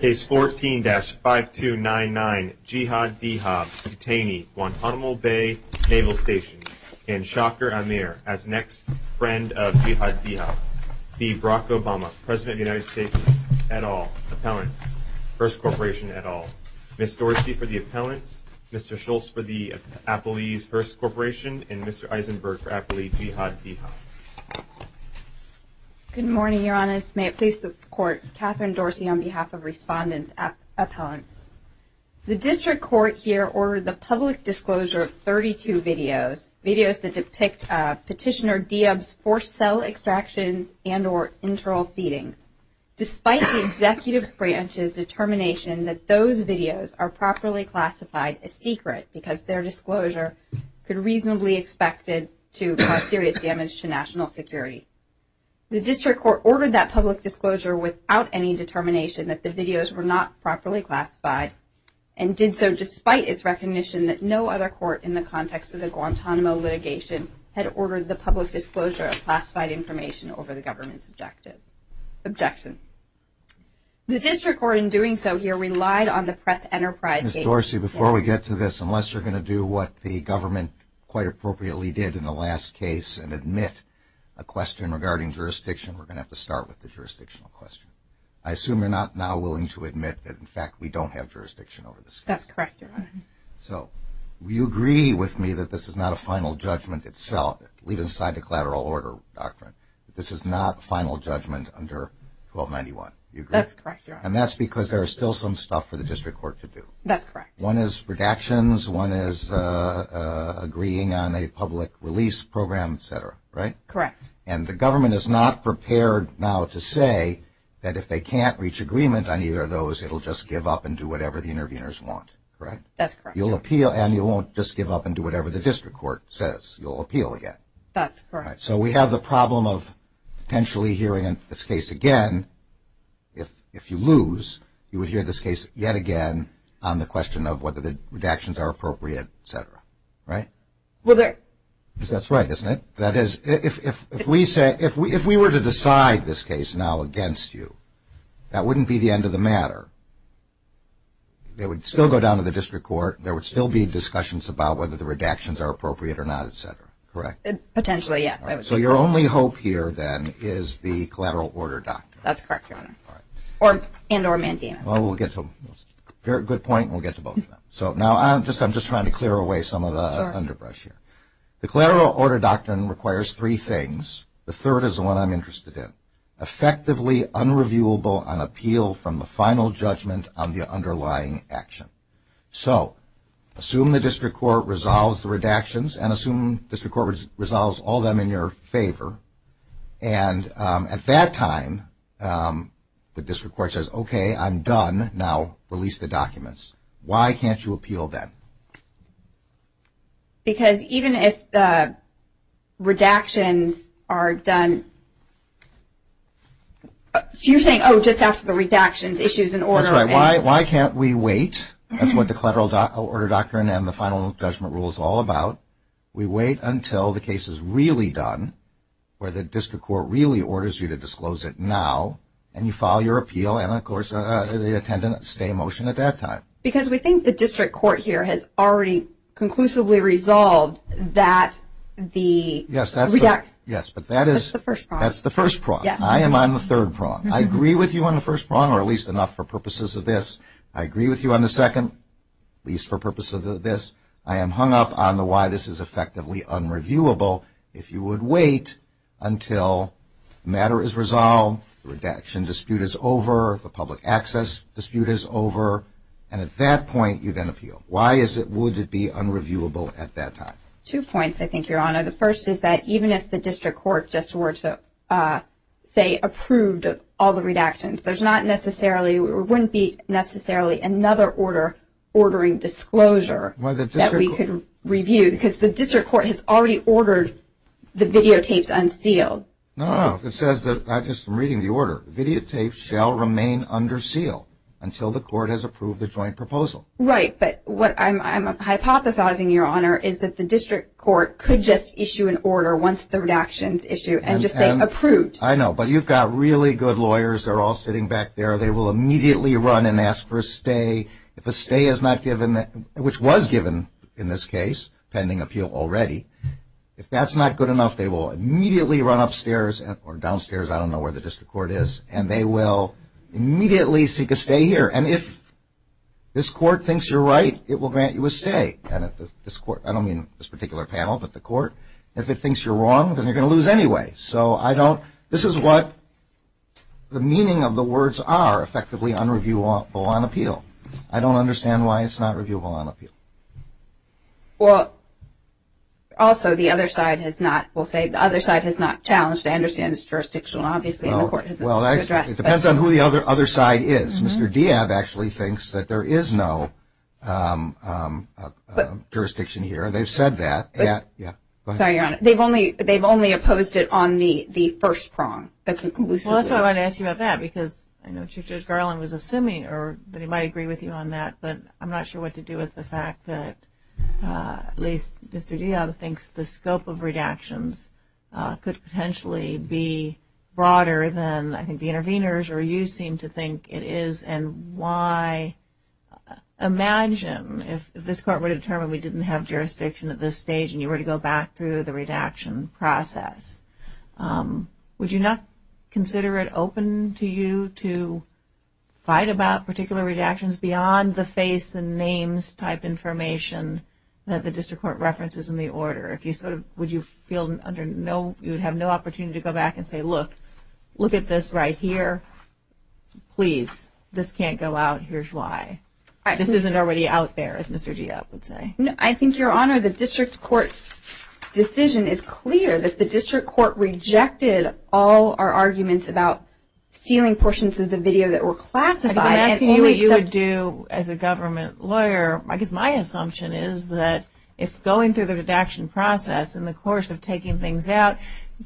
Case 14-5299, Jihad Dhiab, detainee, Guantanamo Bay Naval Station, and Shaker Amir, as next friend of Jihad Dhiab, v. Barack Obama, President of the United States, et al., appellant, First Corporation et al., Ms. Dorsey for the appellant, Mr. Schultz for the appellee's First Corporation, and Mr. Eisenberg for appellee Jihad Dhiab. Good morning, Your Honors. May it please the Court, Katherine Dorsey on behalf of respondents, appellant. The District Court here ordered the public disclosure of 32 videos, videos that depict Petitioner Dhiab's forced cell extraction and or internal feeding, despite the Executive Branch's determination that those videos are properly classified as secret, because their disclosure is reasonably expected to cause serious damage to national security. The District Court ordered that public disclosure without any determination that the videos were not properly classified, and did so despite its recognition that no other court in the context of the Guantanamo litigation had ordered the public disclosure of classified information over the government's objection. The District Court, in doing so, here, relied on the Press Enterprise case. Ms. Dorsey, before we get to this, unless you're going to do what the government quite appropriately did in the last case and admit a question regarding jurisdiction, we're going to have to start with the jurisdictional question. I assume you're not now willing to admit that, in fact, we don't have jurisdiction over this case? That's correct, Your Honor. So you agree with me that this is not a final judgment itself, leaving aside the collateral order doctrine, this is not final judgment under 1291, you agree? That's correct, Your Honor. And that's because there is still some stuff for the District Court to do. That's correct. One is redactions, one is agreeing on a public release program, et cetera, right? Correct. And the government is not prepared now to say that if they can't reach agreement on either of those, it'll just give up and do whatever the interveners want, correct? That's correct. You'll appeal and you won't just give up and do whatever the District Court says. You'll appeal again. That's correct. So we have the problem of potentially hearing this case again. If you lose, you would hear this case yet again on the question of whether the redactions are appropriate, et cetera, right? That's right, isn't it? That is, if we were to decide this case now against you, that redactions are appropriate or not, et cetera, correct? Potentially, yes. So your only hope here then is the collateral order doctrine. That's correct, Your Honor. And or mandamus. Well, we'll get to a good point and we'll get to both of them. So now I'm just trying to clear away some of the underbrush here. The collateral order doctrine requires three things. The third is the one I'm talking about. Assume the District Court resolves the redactions and assume the District Court resolves all of them in your favor. And at that time, the District Court says, okay, I'm done. Now release the documents. Why can't you appeal that? Because even if the redactions are done, you're saying, oh, just ask the redactions issues in order. That's right. Why can't we wait? That's what the final judgment rule is all about. We wait until the case is really done, where the District Court really orders you to disclose it now, and you file your appeal and, of course, they attend and stay in motion at that time. Because we think the District Court here has already conclusively resolved that the redact... Yes, that's right. Yes, but that is... That's the first prong. That's the first prong. I am on the third prong. I agree with you on the first prong or at least enough for purposes of this. I agree with you on the second, at least for purposes of this. I am hung up on the why this is effectively unreviewable. If you would wait until matter is resolved, the redaction dispute is over, the public access dispute is over, and at that point, you then appeal. Why is it, would it be unreviewable at that time? Two points, I think, Your Honor. The first is that even if the District Court just were to, say, approved all the redactions, there's not necessarily, or wouldn't be necessarily, another order ordering disclosure that we could review because the District Court has already ordered the videotapes unsealed. No, no. It says that, I'm just reading the order, videotapes shall remain under seal until the court has approved the joint proposal. Right, but what I'm hypothesizing, Your Honor, is that the District Court could just issue an order once the lawyers are all sitting back there, they will immediately run and ask for a stay. If a stay is not given, which was given in this case, pending appeal already, if that's not good enough, they will immediately run upstairs, or downstairs, I don't know where the District Court is, and they will immediately seek a stay here. And if this court thinks you're right, it will grant you a stay. I don't mean this particular panel, but the court. If it thinks you're wrong, then you're going to lose anyway. So, I don't, this is what the meaning of the words are, effectively, unreviewable on appeal. I don't understand why it's not reviewable on appeal. Well, also, the other side has not, we'll say, the other side has not challenged, I understand, its jurisdiction, obviously, and the court has addressed that. Well, it depends on who the other side is. Mr. Diab actually thinks that there is no jurisdiction here. They've said that. They've only opposed it on the first prong. Well, that's what I wanted to ask you about that, because I know Chief Judge Garland was assuming, or they might agree with you on that, but I'm not sure what to do with the fact that at least Mr. Diab thinks the scope of redactions could potentially be broader than, I think, the interveners, or you seem to think it is, and why, imagine if this court were to determine we didn't have jurisdiction at this stage and you were to go back through the redaction process, would you not consider it open to you to fight about particular redactions beyond the case and names type information that the district court references in the order? Would you feel under no, you would have no opportunity to go back and say, look, look at this right here. Please, this can't go out. Here's why. This isn't already out there, as Mr. Diab would say. I think, Your Honor, the district court's decision is clear that the district court rejected all our arguments about healing portions of the video that were classified. If that's what you would do as a government lawyer, I guess my assumption is that if going through the redaction process in the course of taking things out,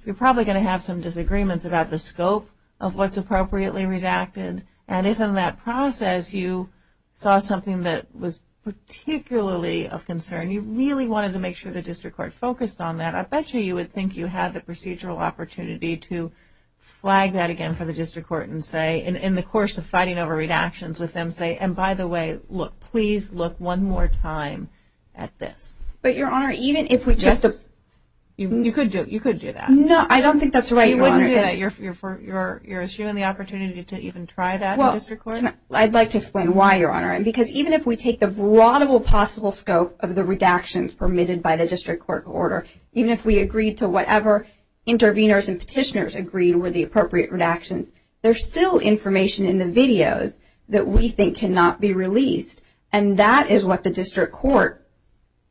you're probably going to have some disagreements about the scope of what's appropriately redacted, and if in that process you saw something that was particularly of concern, you really wanted to make sure the district court focused on that, I bet you you would think you had the procedural opportunity to flag that again for the district court and say, in the course of fighting over redactions with them, say, and by the way, look, please look one more time at this. But, Your Honor, even if we just – You could do that. No, I don't think that's right, Your Honor. You wouldn't do that. You're assuming the opportunity to even try that in the district court? I'd like to explain why, Your Honor, because even if we take the broadable possible scope of the redactions permitted by the district court order, even if we agreed to whatever interveners and petitioners agreed with the appropriate redactions, there's still information in the videos that we think cannot be released, and that is what the district court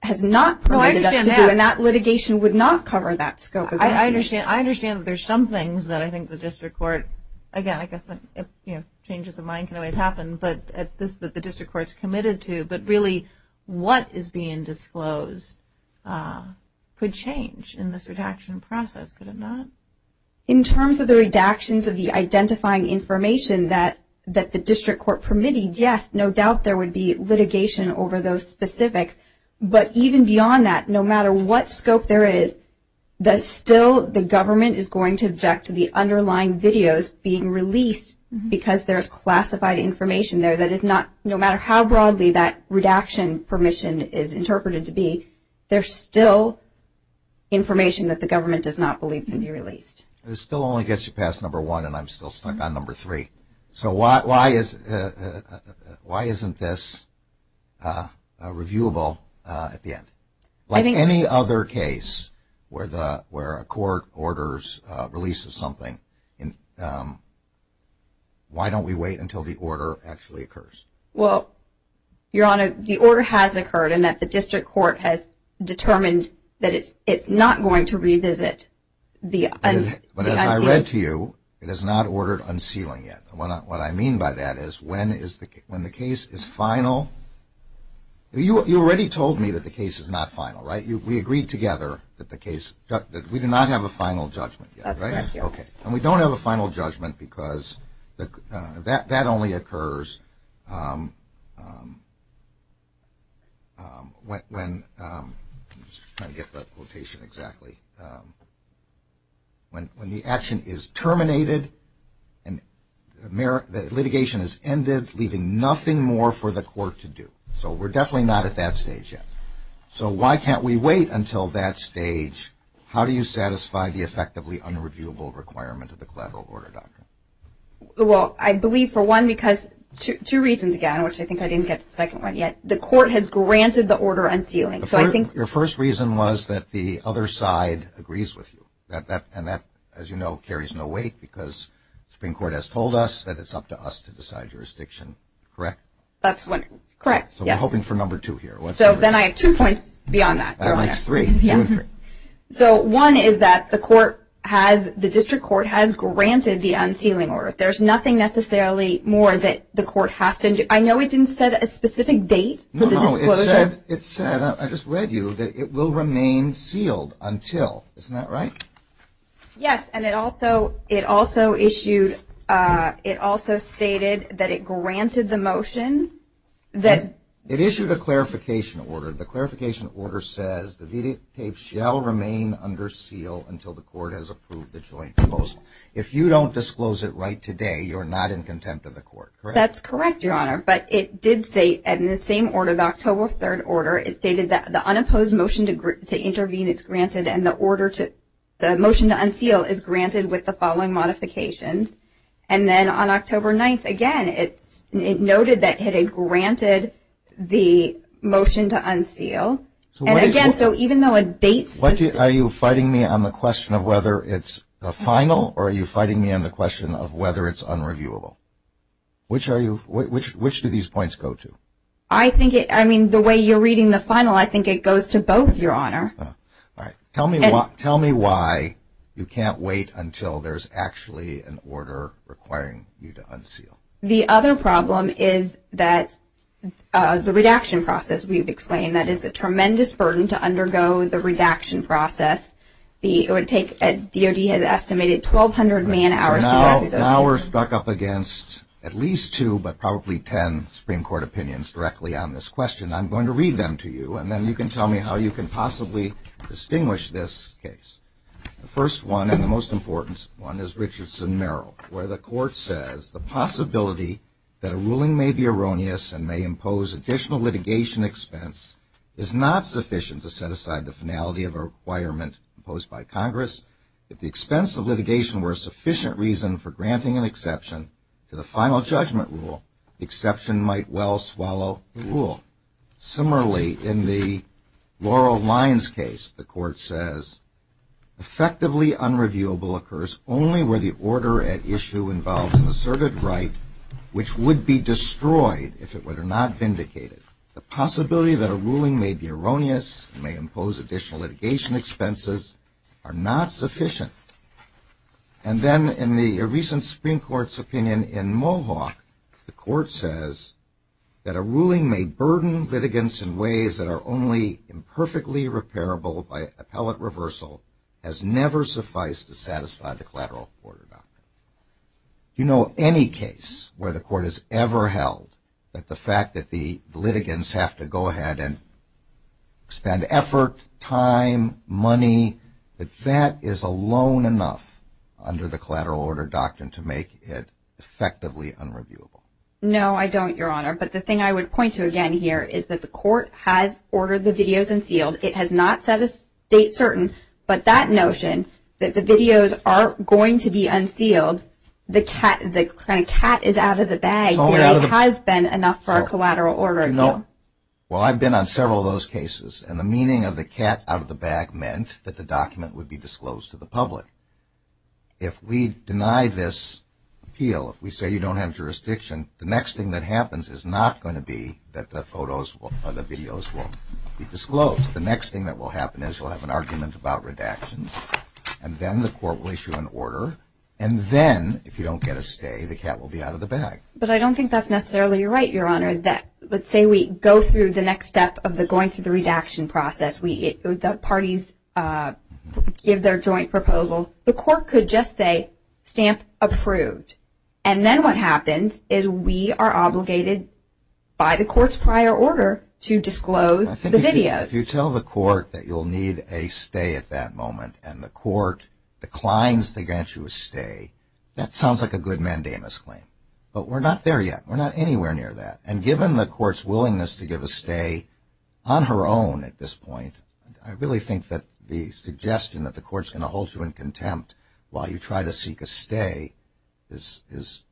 has not permitted us to do, and that litigation would not cover that scope. I understand that there's some things that I think the district court – again, I guess changes of mind can always happen, but it's this that the district court's committed to, but really what is being disclosed could change in this redaction process, could it not? In terms of the redactions of the identifying information that the district court permitted, yes, no doubt there would be litigation over those specifics, but even beyond that, no matter what scope there is, that still the government is going to object to the underlying videos being released because there's classified information there that is not – This still only gets you past number one, and I'm still stuck on number three. So why isn't this reviewable at the end? Like any other case where a court orders – releases something, why don't we wait until the order actually occurs? Well, Your Honor, the order has occurred in that the district court has determined that it's not going to revisit the unsealing. When the action is terminated, the litigation has ended, leaving nothing more for the court to do. So we're definitely not at that stage yet. So why can't we wait until that stage? How do you satisfy the effectively unreviewable requirement of the collateral order document? Well, I believe, for one, because – two reasons, again, which I think I didn't get to the second one yet. The court has granted the order unsealing, so I think – Your first reason was that the other side agrees with you, and that, as you know, carries no weight because Supreme Court has told us that it's up to us to decide jurisdiction, correct? That's what – correct, yes. So we're hoping for number two here. So then I have two points beyond that. That makes three. So one is that the court has – the district court has granted the unsealing order. There's nothing necessarily more that the court has to – I know it didn't set a specific date for the disclosure. No, no, it said – I just read you that it will remain sealed until. Isn't that right? Yes, and it also issued – it also stated that it granted the motion that –– shall remain under seal until the court has approved the joint proposal. If you don't disclose it right today, you're not in contempt of the court, correct? That's correct, Your Honor, but it did state in the same order, the October 3rd order, it stated that the unopposed motion to intervene is granted and the order to – the motion to unseal is granted with the following modifications. And then on October 9th, again, it noted that it had granted the motion to unseal. And again, so even though it dates – Are you fighting me on the question of whether it's a final or are you fighting me on the question of whether it's unreviewable? Which are you – which do these points go to? I think it – I mean, the way you're reading the final, I think it goes to both, Your Honor. All right. Tell me why you can't wait until there's actually an order requiring you to unseal. The other problem is that the redaction process we've explained, that it's a tremendous burden to undergo the redaction process. It would take – DOD has estimated 1,200 million hours to – Now we're stuck up against at least two, but probably ten, Supreme Court opinions directly on this question. I'm going to read them to you, and then you can tell me how you can possibly distinguish this case. The first one, and the most important one, is Richardson-Merrill, where the court says, The possibility that a ruling may be erroneous and may impose additional litigation expense is not sufficient to set aside the finality of a requirement imposed by Congress. If the expense of litigation were a sufficient reason for granting an exception to the final judgment rule, the exception might well swallow the rule. Similarly, in the Laurel Lyons case, the court says, Effectively unreviewable occurs only where the order at issue involves an asserted right which would be destroyed if it were not vindicated. The possibility that a ruling may be erroneous and may impose additional litigation expenses are not sufficient. And then in the recent Supreme Court's opinion in Mohawk, the court says, That a ruling may burden litigants in ways that are only imperfectly repairable by appellate reversal has never sufficed to satisfy the collateral affordability. Do you know of any case where the court has ever held that the fact that the litigants have to go ahead and expend effort, time, money, that that is alone enough under the collateral order doctrine to make it effectively unreviewable? No, I don't, Your Honor, but the thing I would point to again here is that the court has ordered the videos unsealed. It has not set a date certain, but that notion that the videos are going to be unsealed, the cat is out of the bag. It has been enough for a collateral order. Well, I've been on several of those cases, and the meaning of the cat out of the bag meant that the document would be disclosed to the public. If we deny this appeal, if we say you don't have jurisdiction, the next thing that happens is not going to be that the photos or the videos will be disclosed. The next thing that will happen is we'll have an argument about redactions, and then the court will issue an order, and then if you don't get a stay, the cat will be out of the bag. But I don't think that's necessarily right, Your Honor. Let's say we go through the next step of the going through the redaction process. The parties give their joint proposal. The court could just say, stamp approved, and then what happens is we are obligated by the court's prior order to disclose the videos. If you tell the court that you'll need a stay at that moment and the court declines to grant you a stay, that sounds like a good mandamus claim. But we're not there yet. We're not anywhere near that. And given the court's willingness to give a stay on her own at this point, I really think that the suggestion that the court's going to hold you in contempt while you try to seek a stay is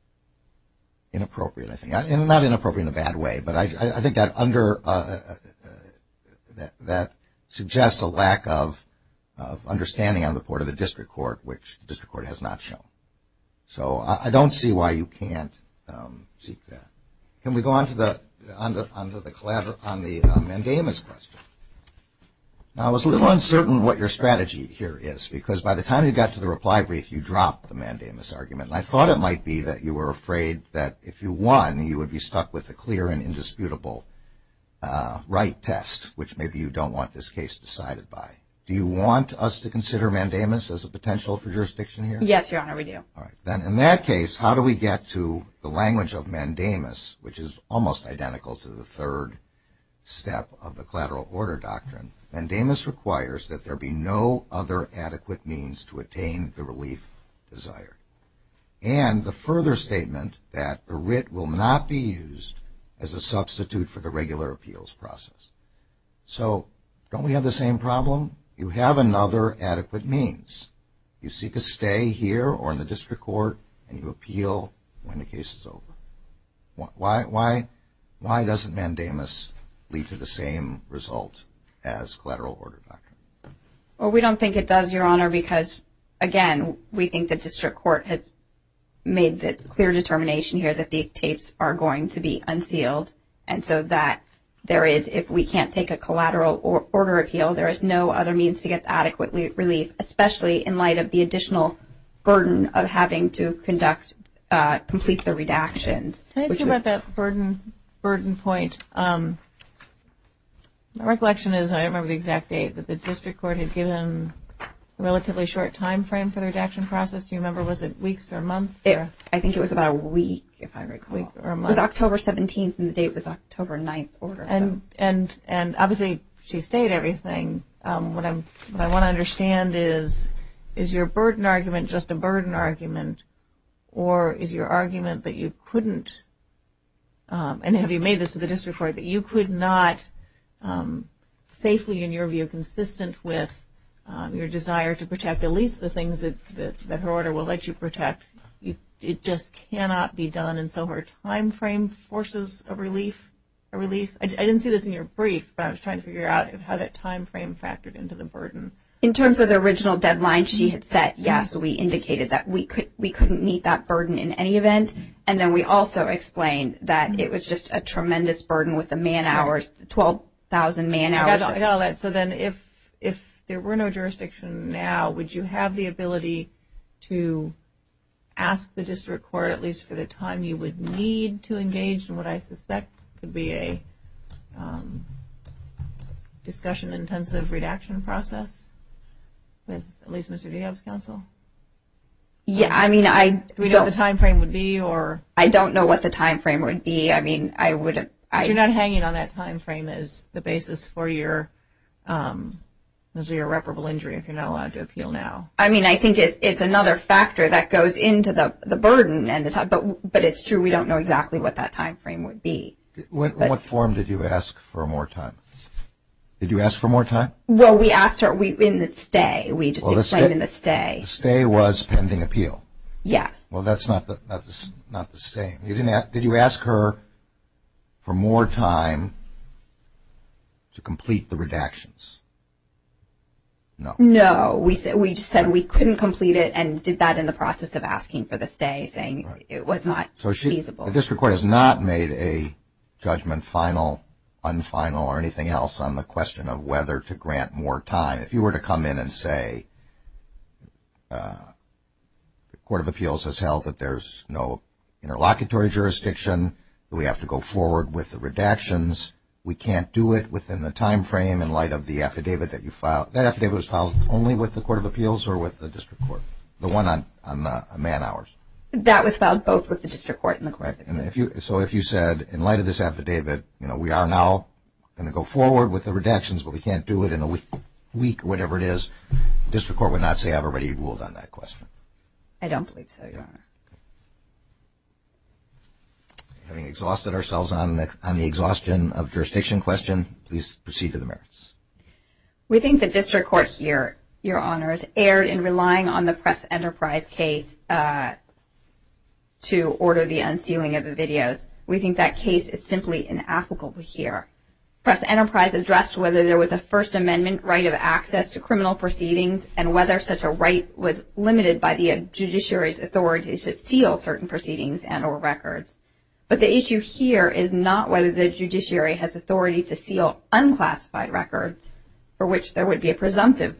inappropriate, I think. Not inappropriate in a bad way, but I think that suggests a lack of understanding on the part of the district court, which the district court has not shown. So I don't see why you can't seek that. Can we go on to the mandamus question? I was a little uncertain what your strategy here is, because by the time you got to the reply brief, you dropped the mandamus argument. I thought it might be that you were afraid that if you won, you would be stuck with a clear and indisputable right test, which maybe you don't want this case decided by. Do you want us to consider mandamus as a potential for jurisdiction here? Yes, Your Honor, we do. All right. Then in that case, how do we get to the language of mandamus, which is almost identical to the third step of the collateral order doctrine? The third step of the collateral order doctrine, mandamus requires that there be no other adequate means to attain the relief desired. And the further statement that a writ will not be used as a substitute for the regular appeals process. So don't we have the same problem? You have another adequate means. You seek a stay here or in the district court, and you appeal when the case is over. Why doesn't mandamus lead to the same result as collateral order doctrine? Well, we don't think it does, Your Honor, because, again, we think the district court has made the clear determination here that these cases are going to be unsealed. And so that there is, if we can't take a collateral order appeal, there is no other means to get adequate relief, especially in light of the additional burden of having to conduct, complete the redaction. Can I ask you about that burden point? My recollection is, I don't remember the exact date, but the district court had given a relatively short time frame for the redaction process. Do you remember, was it weeks or months? I think it was about a week, if I recall. It was October 17th, and the date was October 9th. And obviously she stayed everything. What I want to understand is, is your burden argument just a burden argument, or is your argument that you couldn't, and have you made this to the district court, that you could not safely, in your view, consistent with your desire to protect at least the things that the order will let you protect. It just cannot be done, and so her time frame forces a relief. I didn't see this in your brief, but I was trying to figure out how that time frame factored into the burden. In terms of the original deadline she had set, yes, we indicated that we couldn't meet that burden in any event. And then we also explained that it was just a tremendous burden with the man hours, 12,000 man hours. So then if there were no jurisdiction now, would you have the ability to ask the district court, at least for the time you would need to engage in what I suspect would be a discussion-intensive redaction process, with at least Mr. DeHoff's counsel? Yeah, I mean, I don't know what the time frame would be. You're not hanging on that time frame as the basis for your irreparable injury if you're not allowed to appeal now. I mean, I think it's another factor that goes into the burden, but it's true. We don't know exactly what that time frame would be. In what form did you ask for more time? Did you ask for more time? Well, we asked her in the stay. We just explained in the stay. The stay was pending appeal. Yes. Well, that's not the stay. Did you ask her for more time to complete the redactions? No. No. We just said we couldn't complete it and did that in the process of asking for the stay, saying it was not feasible. So the district court has not made a judgment, final, unfinal, or anything else on the question of whether to grant more time. If you were to come in and say the Court of Appeals has held that there's no interlocutory jurisdiction, we have to go forward with the redactions, we can't do it within the time frame in light of the affidavit that you filed. That affidavit was filed only with the Court of Appeals or with the district court? The one on the man hours. That was filed both with the district court and the court. So if you said, in light of this affidavit, we are now going to go forward with the redactions, but we can't do it in a week or whatever it is, the district court would not say I've already ruled on that question. I don't believe so, Your Honor. We've exhausted ourselves on the exhaustion of jurisdiction question. Please proceed to the merits. We think the district court here, Your Honors, erred in relying on the Press Enterprise case to order the unsealing of the videos. We think that case is simply inapplicable here. Press Enterprise addressed whether there was a First Amendment right of access to criminal proceedings and whether such a right was limited by the judiciary's authority to seal certain proceedings and or records. But the issue here is not whether the judiciary has authority to seal unclassified records, for which there would be a presumptive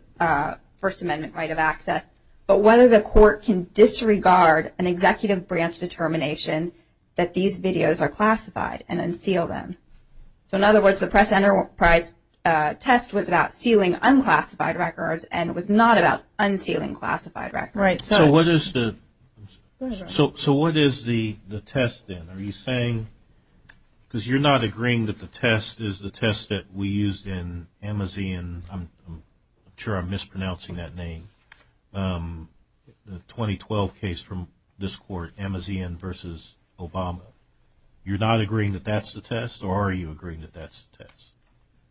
First Amendment right of access, but whether the court can disregard an executive branch determination that these videos are classified and unseal them. So in other words, the Press Enterprise test was about sealing unclassified records and was not about unsealing classified records. So what is the test then? Are you saying, because you're not agreeing that the test is the test that we used in Amazin, I'm sure I'm mispronouncing that name, the 2012 case from this court, Amazin v. Obama. You're not agreeing that that's the test, or are you agreeing that that's the test?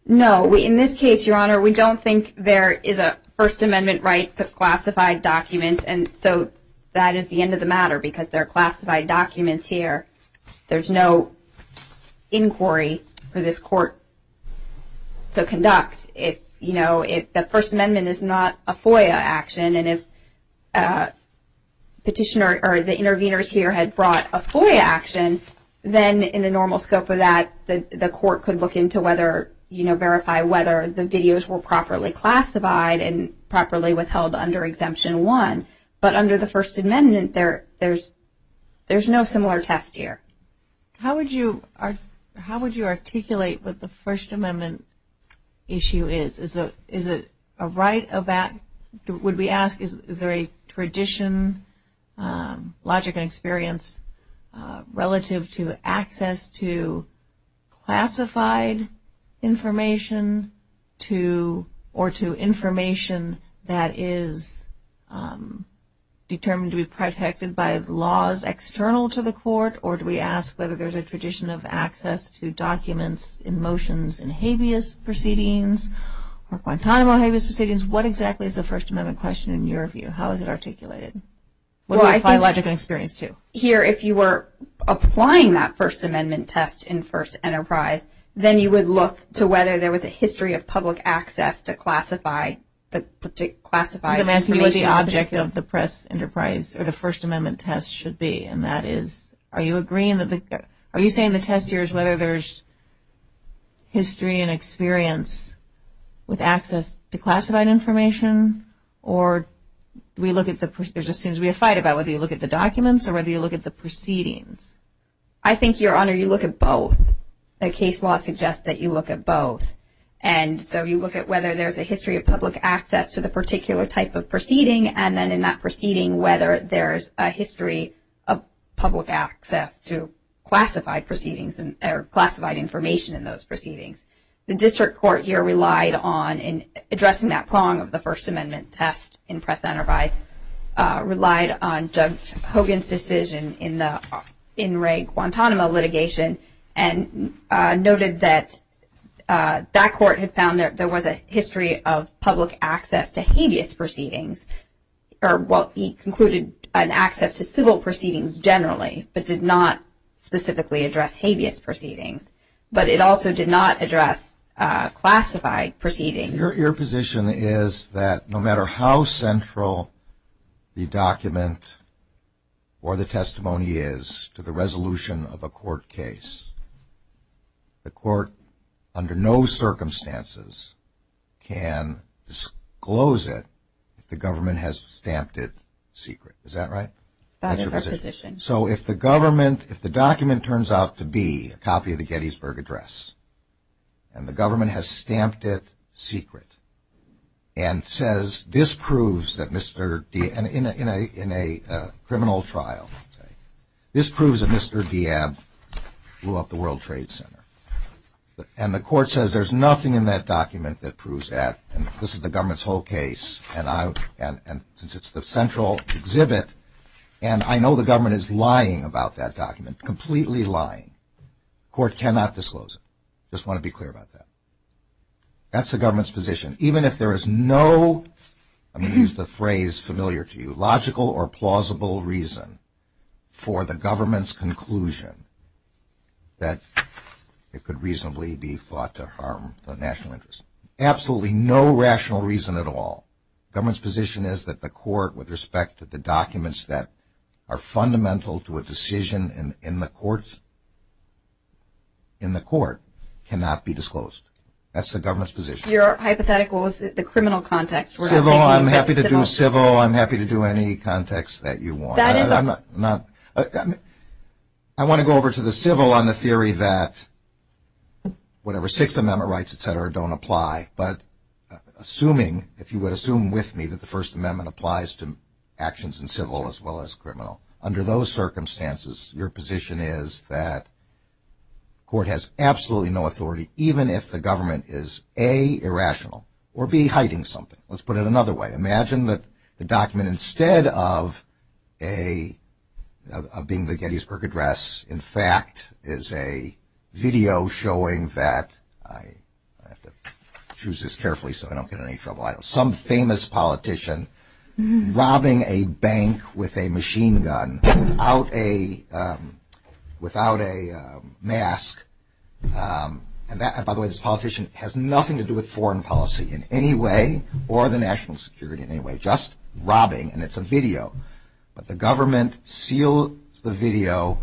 No. In this case, Your Honor, we don't think there is a First Amendment right to classified documents, and so that is the end of the matter because there are classified documents here. There's no inquiry for this court to conduct. You know, the First Amendment is not a FOIA action, and if the petitioner or the intervener here had brought a FOIA action, then in the normal scope of that, the court could look into whether, you know, verify whether the videos were properly classified and properly withheld under Exemption 1. But under the First Amendment, there's no similar test here. How would you articulate what the First Amendment issue is? Would we ask is there a tradition, logic, and experience relative to access to classified information or to information that is determined to be protected by laws external to the court, or do we ask whether there's a tradition of access to documents, or do we ask whether there's a tradition of access to documents, emotions, and habeas proceedings or quantum or habeas proceedings? What exactly is the First Amendment question in your view? How is it articulated? What would apply logic and experience to? Here, if you were applying that First Amendment test in First Enterprise, then you would look to whether there was a history of public access to classified information. What would the object of the Press Enterprise or the First Amendment test should be? And that is, are you saying the test here is whether there's history and experience with access to classified information, or do we look at the proceedings? There seems to be a fight about whether you look at the documents or whether you look at the proceedings. I think, Your Honor, you look at both. The case law suggests that you look at both. And so you look at whether there's a history of public access to the particular type of proceeding, and then in that proceeding whether there's a history of public access to classified proceedings or classified information in those proceedings. The district court here relied on, in addressing that prong of the First Amendment test in Press Enterprise, relied on Judge Hogan's decision in the In Re Guantanamo litigation and noted that that court had found that there was a history of public access to habeas proceedings, or, well, he concluded an access to civil proceedings generally, but did not specifically address habeas proceedings. But it also did not address classified proceedings. Your position is that no matter how central the document or the testimony is to the resolution of a court case, the court under no circumstances can disclose it if the government has stamped it secret. Is that right? That's your position. So if the government, if the document turns out to be a copy of the Gettysburg Address and the government has stamped it secret and says, this proves that Mr. Diab, in a criminal trial, this proves that Mr. Diab blew up the World Trade Center, and the court says there's nothing in that document that proves that, and this is the government's whole case, and since it's the central exhibit, and I know the government is lying about that document, completely lying, the court cannot disclose it. I just want to be clear about that. That's the government's position. Even if there is no, I'm going to use the phrase familiar to you, logical or plausible reason for the government's conclusion that it could reasonably be thought to harm the national interest. Absolutely no rational reason at all. The government's position is that the court, with respect to the documents that are fundamental to a decision in the courts, in the court cannot be disclosed. That's the government's position. Your hypothetical is the criminal context. Civil, I'm happy to do civil. I'm happy to do any context that you want. I want to go over to the civil on the theory that whatever Sixth Amendment rights, et cetera, don't apply, but assuming, if you would assume with me that the First Amendment applies to actions in civil as well as criminal, under those circumstances your position is that court has absolutely no authority, even if the government is A, irrational, or B, hiding something. Let's put it another way. Imagine that the document, instead of being the Gettysburg Address, in fact, is a video showing that, I have to choose this carefully so I don't get into any trouble, some famous politician robbing a bank with a machine gun without a mask. And that, by the way, this politician has nothing to do with foreign policy in any way or the national security in any way, just robbing, and it's a video. But the government seals the video,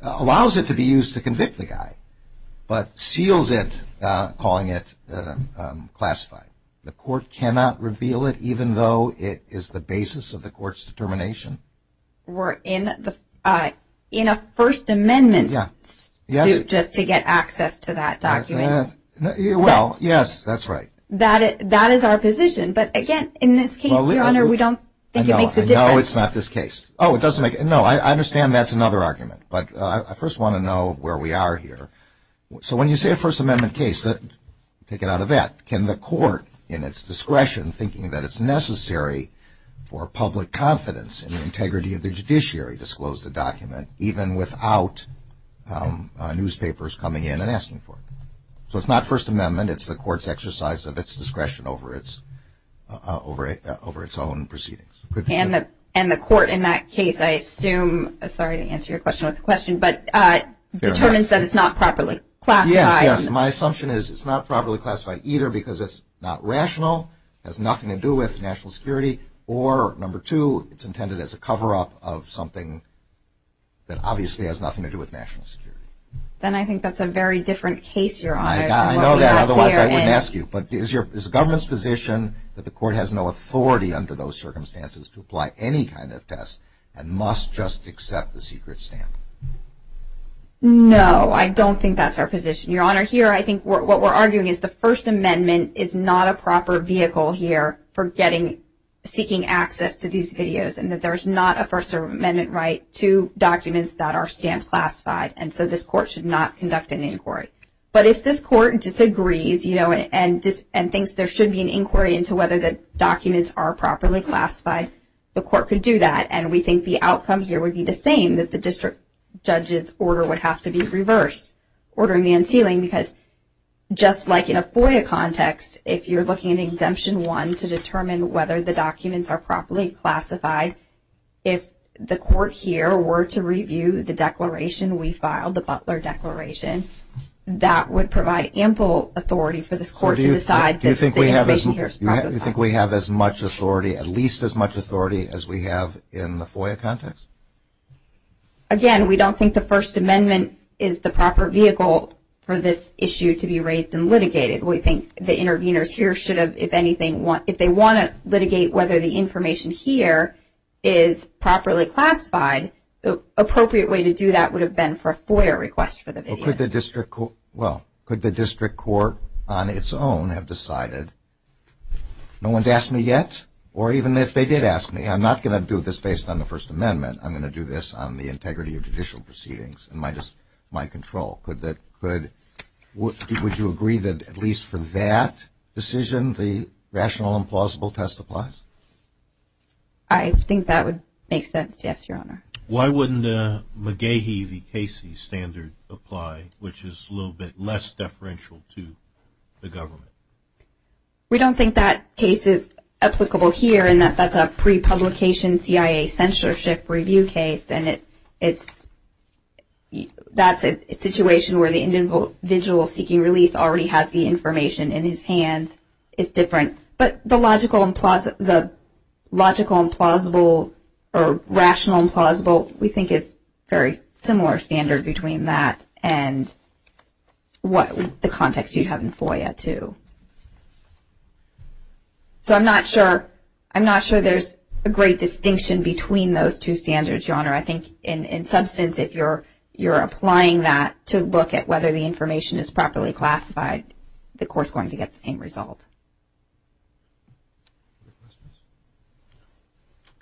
allows it to be used to convict the guy, but seals it calling it classified. The court cannot reveal it even though it is the basis of the court's determination. We're in a First Amendment just to get access to that document. Well, yes, that's right. That is our position. But, again, in this case, Your Honor, we don't think it makes a difference. No, it's not this case. No, I understand that's another argument, but I first want to know where we are here. So when you say a First Amendment case, take it out of that. But can the court, in its discretion, thinking that it's necessary for public confidence and integrity of the judiciary, disclose the document even without newspapers coming in and asking for it? So it's not First Amendment. It's the court's exercise of its discretion over its own proceedings. And the court in that case, I assume, sorry to answer your question without the question, but determines that it's not properly classified. Yes, my assumption is it's not properly classified either because it's not rational, has nothing to do with national security, or, number two, it's intended as a cover-up of something that obviously has nothing to do with national security. Then I think that's a very different case, Your Honor. I know that. Otherwise, I wouldn't ask you. But is the government's position that the court has no authority under those circumstances to apply any kind of test and must just accept the secret sample? No, I don't think that's our position, Your Honor. Here, I think what we're arguing is the First Amendment is not a proper vehicle here for getting, seeking access to these videos and that there's not a First Amendment right to documents that are stamped classified. And so this court should not conduct an inquiry. But if this court disagrees, you know, and thinks there should be an inquiry into whether the documents are properly classified, the court could do that. And we think the outcome here would be the same, that the district judge's order would have to be reversed, ordering the unsealing, because just like in a FOIA context, if you're looking at Exemption 1 to determine whether the documents are properly classified, if the court here were to review the declaration we filed, the Butler Declaration, that would provide ample authority for this court to decide that this information here is classified. Do you think we have as much authority, at least as much authority as we have in the FOIA context? Again, we don't think the First Amendment is the proper vehicle for this issue to be raised and litigated. We think the interveners here should have, if anything, if they want to litigate whether the information here is properly classified, the appropriate way to do that would have been for a FOIA request for the video. Well, could the district court on its own have decided, no one's asked me yet? Or even if they did ask me, I'm not going to do this based on the First Amendment, I'm going to do this on the integrity of judicial proceedings and my control. Would you agree that at least for that decision the rational and plausible test applies? I think that would make sense, yes, Your Honor. Why wouldn't the McGehee v. Casey standard apply, which is a little bit less deferential to the government? We don't think that case is applicable here in that that's a pre-publication CIA censorship review case, and that's a situation where the individual seeking release already has the information in his hand. But the logical and plausible or rational and plausible, we think it's a very similar standard between that and the context you have in FOIA too. So I'm not sure there's a great distinction between those two standards, Your Honor. I think in substance if you're applying that to look at whether the information is properly classified, the court's going to get the same result.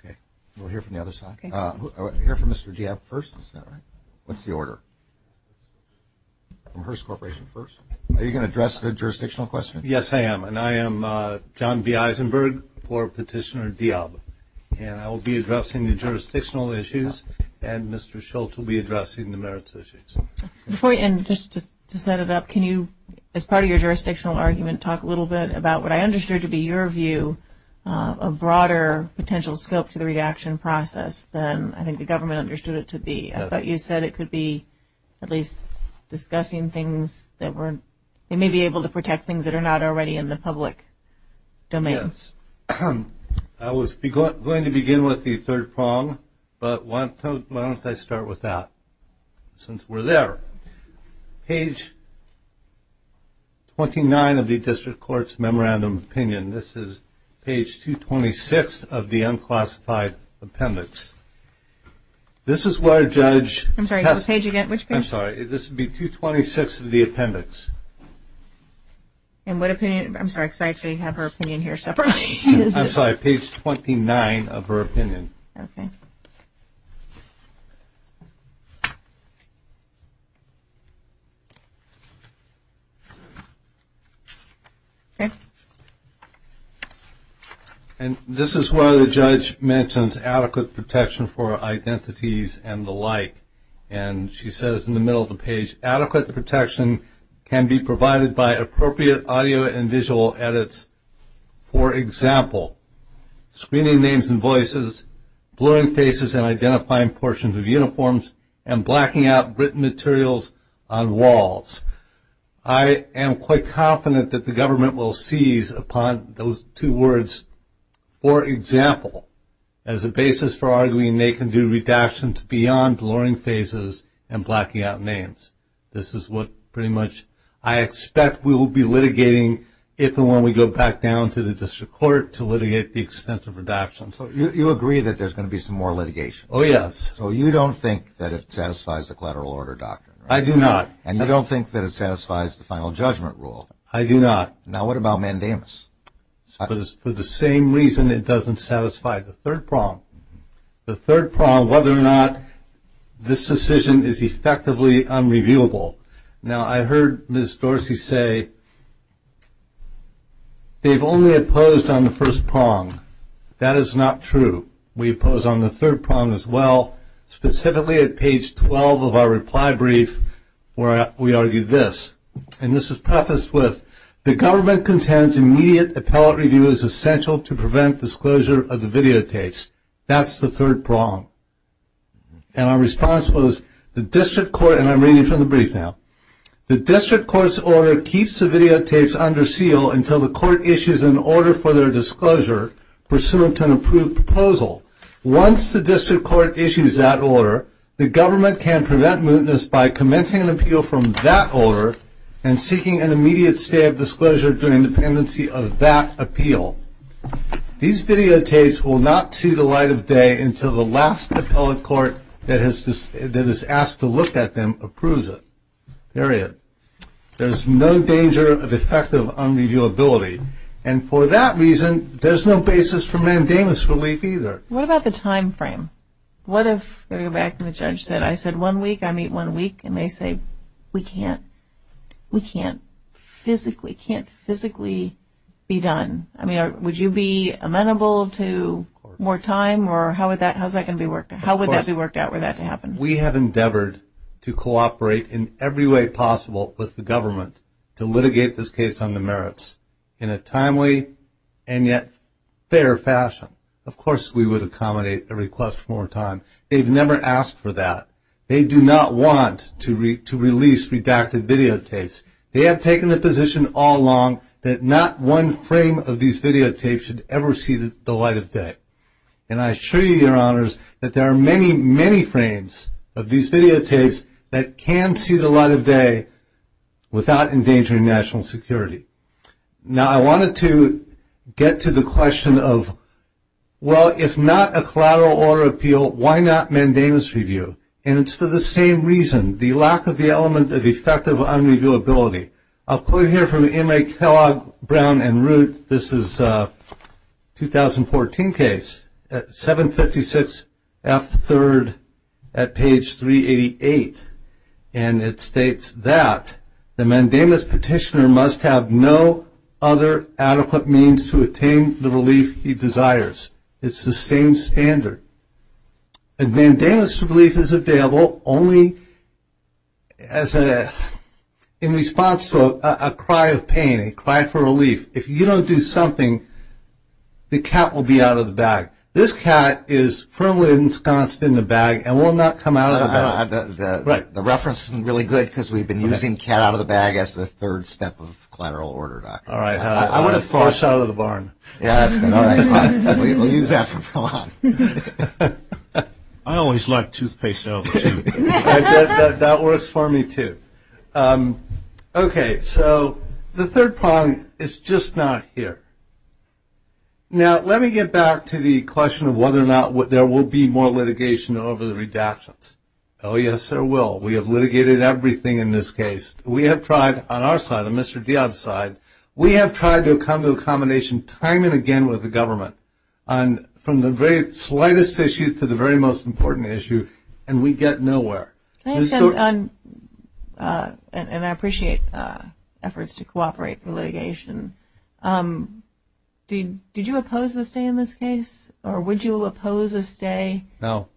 Okay. We'll hear from the other side. We'll hear from Mr. Deob first. What's the order? From Hearst Corporation first. Are you going to address the jurisdictional question? Yes, I am. And I am John B. Eisenberg for Petitioner Deob. And I will be addressing the jurisdictional issues, and Mr. Schultz will be addressing the merits issues. Before we end, just to set it up, can you, as part of your jurisdictional argument, talk a little bit about what I understood to be your view of broader potential scope for the redaction process than I think the government understood it to be? I thought you said it could be at least discussing things that were – they may be able to protect things that are not already in the public domain. Yes. I was going to begin with the third prong, but why don't I start with that? Since we're there. Page 29 of the District Court's Memorandum of Opinion. This is page 226 of the unclassified appendix. This is where a judge – I'm sorry. Go to page again. I'm sorry. This would be 226 of the appendix. I have her opinion here separately. I'm sorry. Go to page 29 of her opinion. Okay. And this is where the judge mentions adequate protection for identities and the like. And she says in the middle of the page, adequate protection can be provided by appropriate audio and visual edits, for example, screening names and voices, blurring faces and identifying portions of uniforms, and blacking out written materials on walls. I am quite confident that the government will seize upon those two words, for example, as a basis for arguing they can do redactions beyond blurring faces and blacking out names. This is what pretty much I expect we will be litigating if and when we go back down to the District Court to litigate the extensive redactions. You agree that there's going to be some more litigation. Oh, yes. So you don't think that it satisfies the collateral order doctrine? I do not. And you don't think that it satisfies the final judgment rule? I do not. Now what about mandamus? For the same reason it doesn't satisfy the third prong, the third prong whether or not this decision is effectively unreviewable. Now I heard Ms. Dorsey say they've only opposed on the first prong. That is not true. We oppose on the third prong as well, specifically at page 12 of our reply brief where we argue this. And this is prefaced with, the government contends immediate appellate review is essential to prevent disclosure of the videotapes. That's the third prong. And our response was the District Court, and I'm reading from the brief now, the District Court's order keeps the videotapes under seal until the court issues an order for their disclosure pursuant to an approved proposal. Once the District Court issues that order, the government can prevent mootness by commencing an appeal from that order and seeking an immediate state of disclosure to an independency of that appeal. These videotapes will not see the light of day until the last appellate court that is asked to look at them approves it. Period. There's no danger of effective unreviewability. And for that reason, there's no basis for mandamus relief either. What about the time frame? What if, going back to what the judge said, I said one week, I need one week, and they say we can't physically be done? I mean, would you be amenable to more time, or how would that be worked out for that to happen? We have endeavored to cooperate in every way possible with the government to litigate this case on the merits in a timely and yet fair fashion. Of course we would accommodate a request for more time. They've never asked for that. They do not want to release redacted videotapes. They have taken the position all along that not one frame of these videotapes should ever see the light of day. And I assure you, Your Honors, that there are many, many frames of these videotapes that can see the light of day without endangering national security. Now, I wanted to get to the question of, well, if not a collateral order appeal, why not mandamus review? And it's for the same reason, the lack of the element of effective unreviewability. I'll quote here from M.A. Kellogg, Brown, and Root. This is a 2014 case, 756F3rd at page 388. And it states that the mandamus petitioner must have no other adequate means to attain the relief he desires. It's the same standard. A mandamus relief is available only in response to a cry of pain, a cry for relief. If you don't do something, the cat will be out of the bag. This cat is permanently ensconced in the bag and will not come out of the bag. The reference is really good because we've been using cat out of the bag as the third step of collateral order, Doctor. All right. I want to flush out of the barn. We'll use that for pawn. I always like toothpaste over tooth. That works for me, too. Okay. So the third pawn is just not here. Now, let me get back to the question of whether or not there will be more litigation over the redactions. Oh, yes, there will. We have litigated everything in this case. We have tried on our side, on Mr. Deob's side, we have tried to come to a combination time and again with the government from the very slightest issues to the very most important issue, and we get nowhere. And I appreciate efforts to cooperate for litigation. Did you oppose this day in this case, or would you oppose this day? No.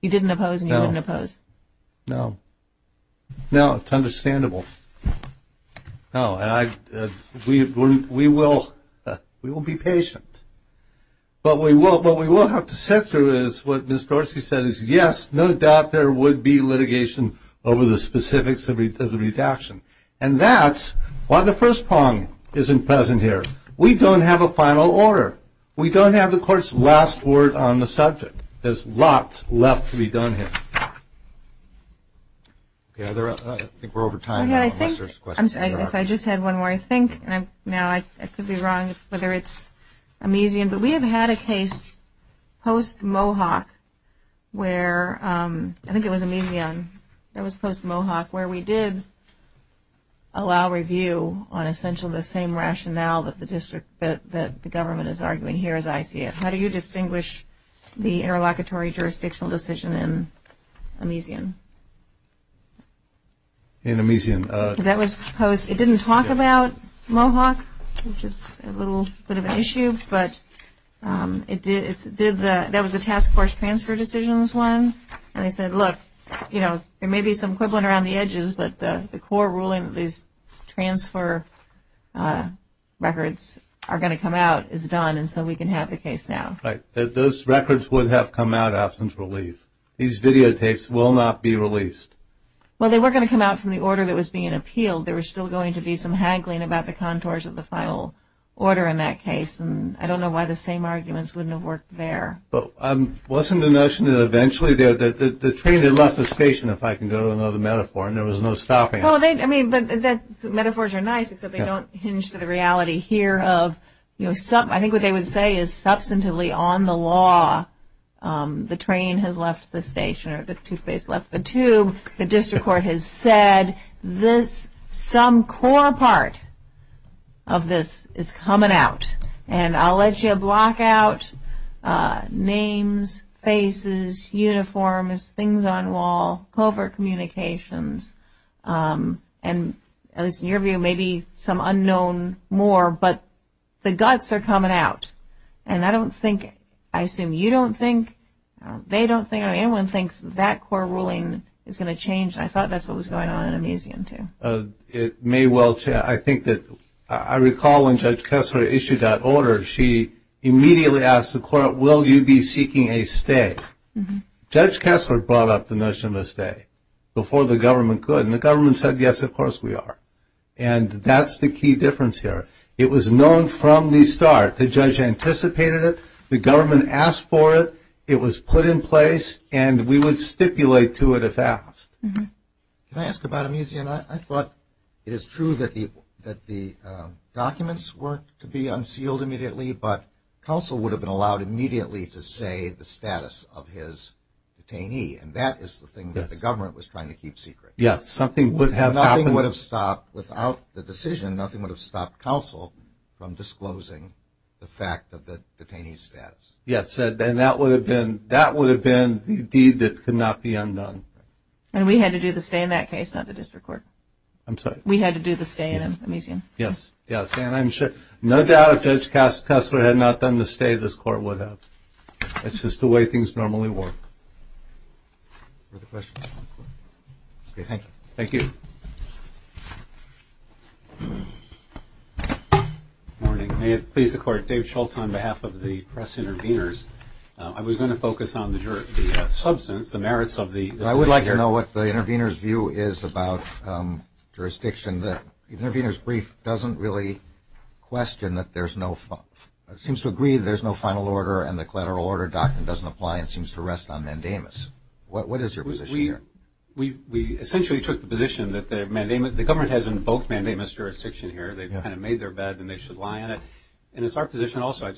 You didn't oppose and you wouldn't oppose? No. No, it's understandable. No, we will be patient. But what we will have to sit through is what Ms. Dorsey said is, yes, no doubt there would be litigation over the specifics of the redaction. And that's why the first pawn isn't present here. We don't have a final order. We don't have the court's last word on the subject. There's lots left to be done here. I think we're over time. I just had one more. I think now I could be wrong as to whether it's amnesia, but we have had a case post-Mohawk where we did allow review on essentially the same rationale that the government is arguing here as I see it. How do you distinguish the interlocutory jurisdictional decision in amnesia? In amnesia? That was post. It didn't talk about Mohawk, which is a little bit of an issue, but there was a task force transfer decisions one. And I said, look, you know, there may be some equivalent around the edges, but the core ruling that these transfer records are going to come out is done and so we can have the case now. Right. Those records would have come out after it was released. These videotapes will not be released. Well, they were going to come out from the order that was being appealed. There was still going to be some haggling about the contours of the final order in that case, and I don't know why the same arguments wouldn't have worked there. Well, wasn't the notion that eventually the train had left the station, if I can go to another metaphor, and there was no stopping it? Well, I mean, metaphors are nice, except they don't hinge to the reality here of, you know, I think what they would say is substantively on the law the train has left the station or the toothpaste left the tube. The district court has said some core part of this is coming out, and I'll let you block out names, faces, uniforms, things on wall, covert communications, and your view may be some unknown more, but the guts are coming out, and I don't think, I assume you don't think, they don't think, or anyone thinks that core ruling is going to change, and I thought that's what was going on in the museum too. It may well change. I think that I recall when Judge Kessler issued that order, she immediately asked the court, will you be seeking a stay? Judge Kessler brought up the notion of a stay before the government could, and the government said, yes, of course we are, and that's the key difference here. It was known from the start. The judge anticipated it. The government asked for it. It was put in place, and we would stipulate to it if asked. Can I ask about a museum? I thought it is true that the documents were to be unsealed immediately, but counsel would have been allowed immediately to say the status of his detainee, and that is the thing that the government was trying to keep secret. Yes, something would have happened. Nothing would have stopped, without the decision, nothing would have stopped counsel from disclosing the fact of the detainee's status. Yes, and that would have been the deed that could not be unknown. And we had to do the stay in that case, not the district court. I'm sorry? We had to do the stay in a museum. Yes, yes, and I'm sure no doubt if Judge Kessler had not done the stay, this court would have. It's just the way things normally work. Any other questions? Okay, thank you. Thank you. May it please the Court. Dave Schultz on behalf of the press intervenors. I was going to focus on the merits of the jury. I would like to know what the intervenor's view is about jurisdiction. The intervenor's brief doesn't really question that there's no, it seems to agree that there's no final order and the collateral order doctrine doesn't apply and seems to rest on mandamus. What is your position here? We essentially took the position that the government has in both mandamus jurisdiction here. They've kind of made their bed and they should lie on it. And it's our position also,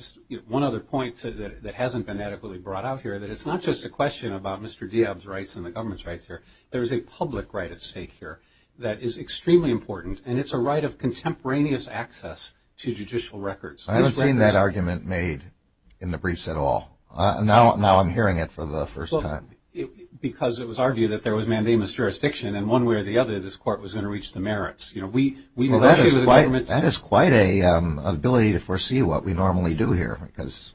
one other point that hasn't been adequately brought out here, that it's not just a question about Mr. Diab's rights and the government's rights here. There is a public right at stake here that is extremely important, and it's a right of contemporaneous access to judicial records. I haven't seen that argument made in the briefs at all. Now I'm hearing it for the first time. Because it was argued that there was mandamus jurisdiction, and one way or the other this court was going to reach the merits. That is quite an ability to foresee what we normally do here. Because,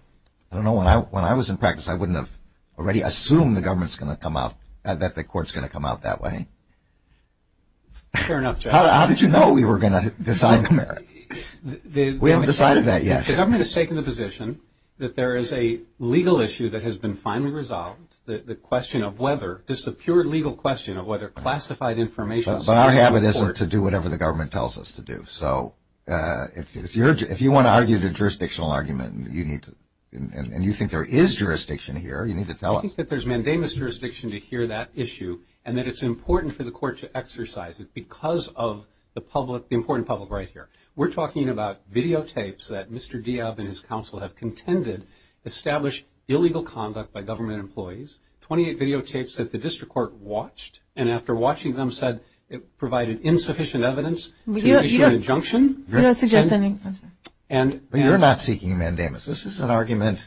I don't know, when I was in practice, I wouldn't have already assumed the government's going to come out, that the court's going to come out that way. Fair enough, Jeff. How did you know we were going to decide the merit? We haven't decided that yet. The government has taken the position that there is a legal issue that has been finally resolved, the question of whether, this is a pure legal question of whether classified information is important. Well, our habit isn't to do whatever the government tells us to do. So if you want to argue the jurisdictional argument, and you think there is jurisdiction here, you need to tell us. I think that there's mandamus jurisdiction to hear that issue, and that it's important for the court to exercise it because of the public, the important public right here. We're talking about videotapes that Mr. Diab and his counsel have contended established illegal conduct by government employees, 28 videotapes that the district court watched, and after watching them said it provided insufficient evidence to initiate an injunction. You're not seeking mandamus. This is an argument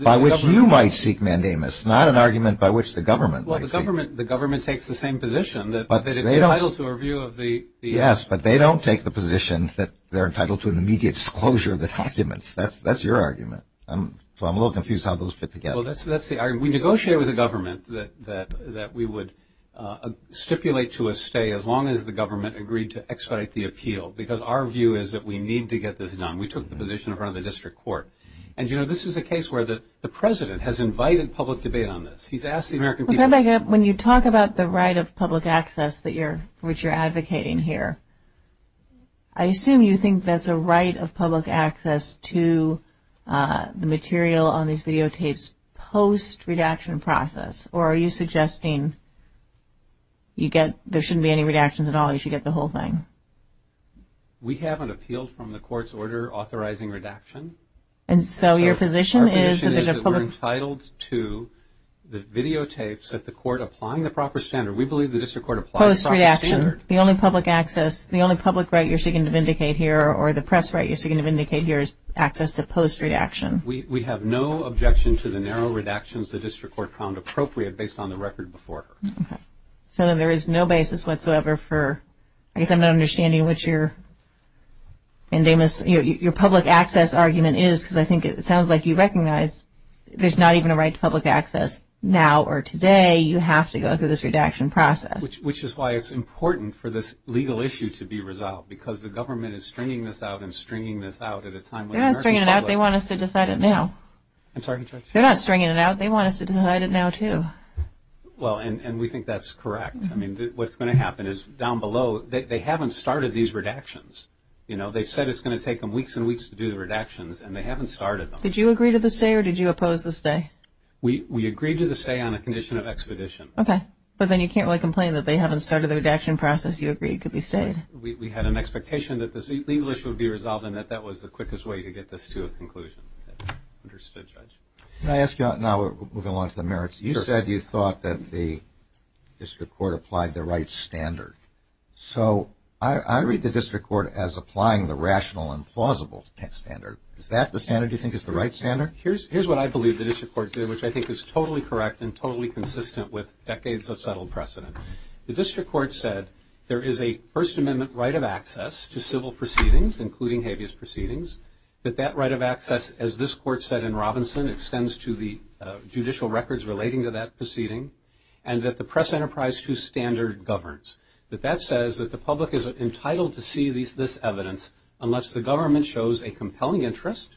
by which you might seek mandamus, not an argument by which the government might seek. Well, the government takes the same position, that it's entitled to review of the. Yes, but they don't take the position that they're entitled to immediate disclosure of the documents. That's your argument. So I'm a little confused how those fit together. Well, that's the argument. We negotiated with the government that we would stipulate to a stay as long as the government agreed to expedite the appeal. Because our view is that we need to get this done. We took the position in front of the district court. And, you know, this is a case where the president has invited public debate on this. He's asked the American people. When you talk about the right of public access, which you're advocating here, I assume you think that's a right of public access to the material on these videotapes post-redaction process, or are you suggesting there shouldn't be any redactions at all if you get the whole thing? We haven't appealed from the court's order authorizing redaction. And so your position is that we're entitled to the videotapes that the court applying the proper standard. We believe the district court applies the proper standard. Post-redaction, the only public right you're seeking to vindicate here or the press right you're seeking to vindicate here is access to post-redaction. We have no objection to the narrow redactions the district court found appropriate based on the record before. Okay. So there is no basis whatsoever for, I guess I'm not understanding what your public access argument is, because I think it sounds like you recognize there's not even a right to public access now or today. You have to go through this redaction process. Which is why it's important for this legal issue to be resolved, because the government is stringing this out and stringing this out at a time when the American public. They're not stringing it out. They want us to decide it now. I'm sorry? They're not stringing it out. They want us to decide it now too. Well, and we think that's correct. I mean, what's going to happen is down below, they haven't started these redactions. You know, they said it's going to take them weeks and weeks to do the redactions, and they haven't started them. Did you agree to the stay or did you oppose the stay? We agreed to the stay on the condition of expedition. Okay. But then you can't really complain that they haven't started the redaction process you agreed could be stayed. We had an expectation that this legal issue would be resolved and that that was the quickest way to get this to a conclusion. Understood, Judge. Can I ask you now moving along to the merits? Sure. You said you thought that the district court applied the right standard. So I read the district court as applying the rational and plausible standard. Is that the standard you think is the right standard? Here's what I believe the district court is doing, which I think is totally correct and totally consistent with decades of settled precedent. The district court said there is a First Amendment right of access to civil proceedings, including habeas proceedings, that that right of access, as this court said in Robinson, extends to the judicial records relating to that proceeding, and that the press enterprise to standard governs. That that says that the public is entitled to see this evidence unless the government shows a compelling interest,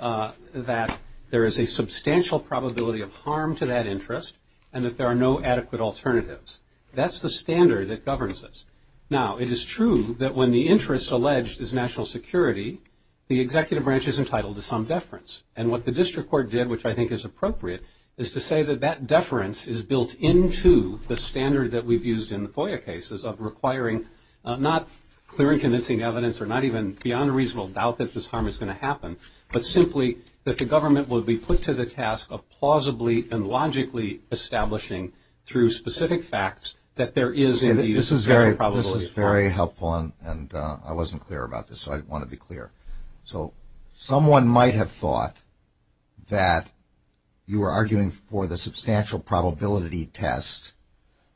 that there is a substantial probability of harm to that interest, and that there are no adequate alternatives. That's the standard that governs this. Now, it is true that when the interest alleged is national security, the executive branch is entitled to some deference. And what the district court did, which I think is appropriate, is to say that that deference is built into the standard that we've used in the FOIA cases of requiring not clear and convincing evidence or not even beyond a reasonable doubt that this harm is going to happen, but simply that the government will be put to the task of plausibly and logically establishing through specific facts that there is a very probable. This is very helpful, and I wasn't clear about this, so I want to be clear. So someone might have thought that you were arguing for the substantial probability test,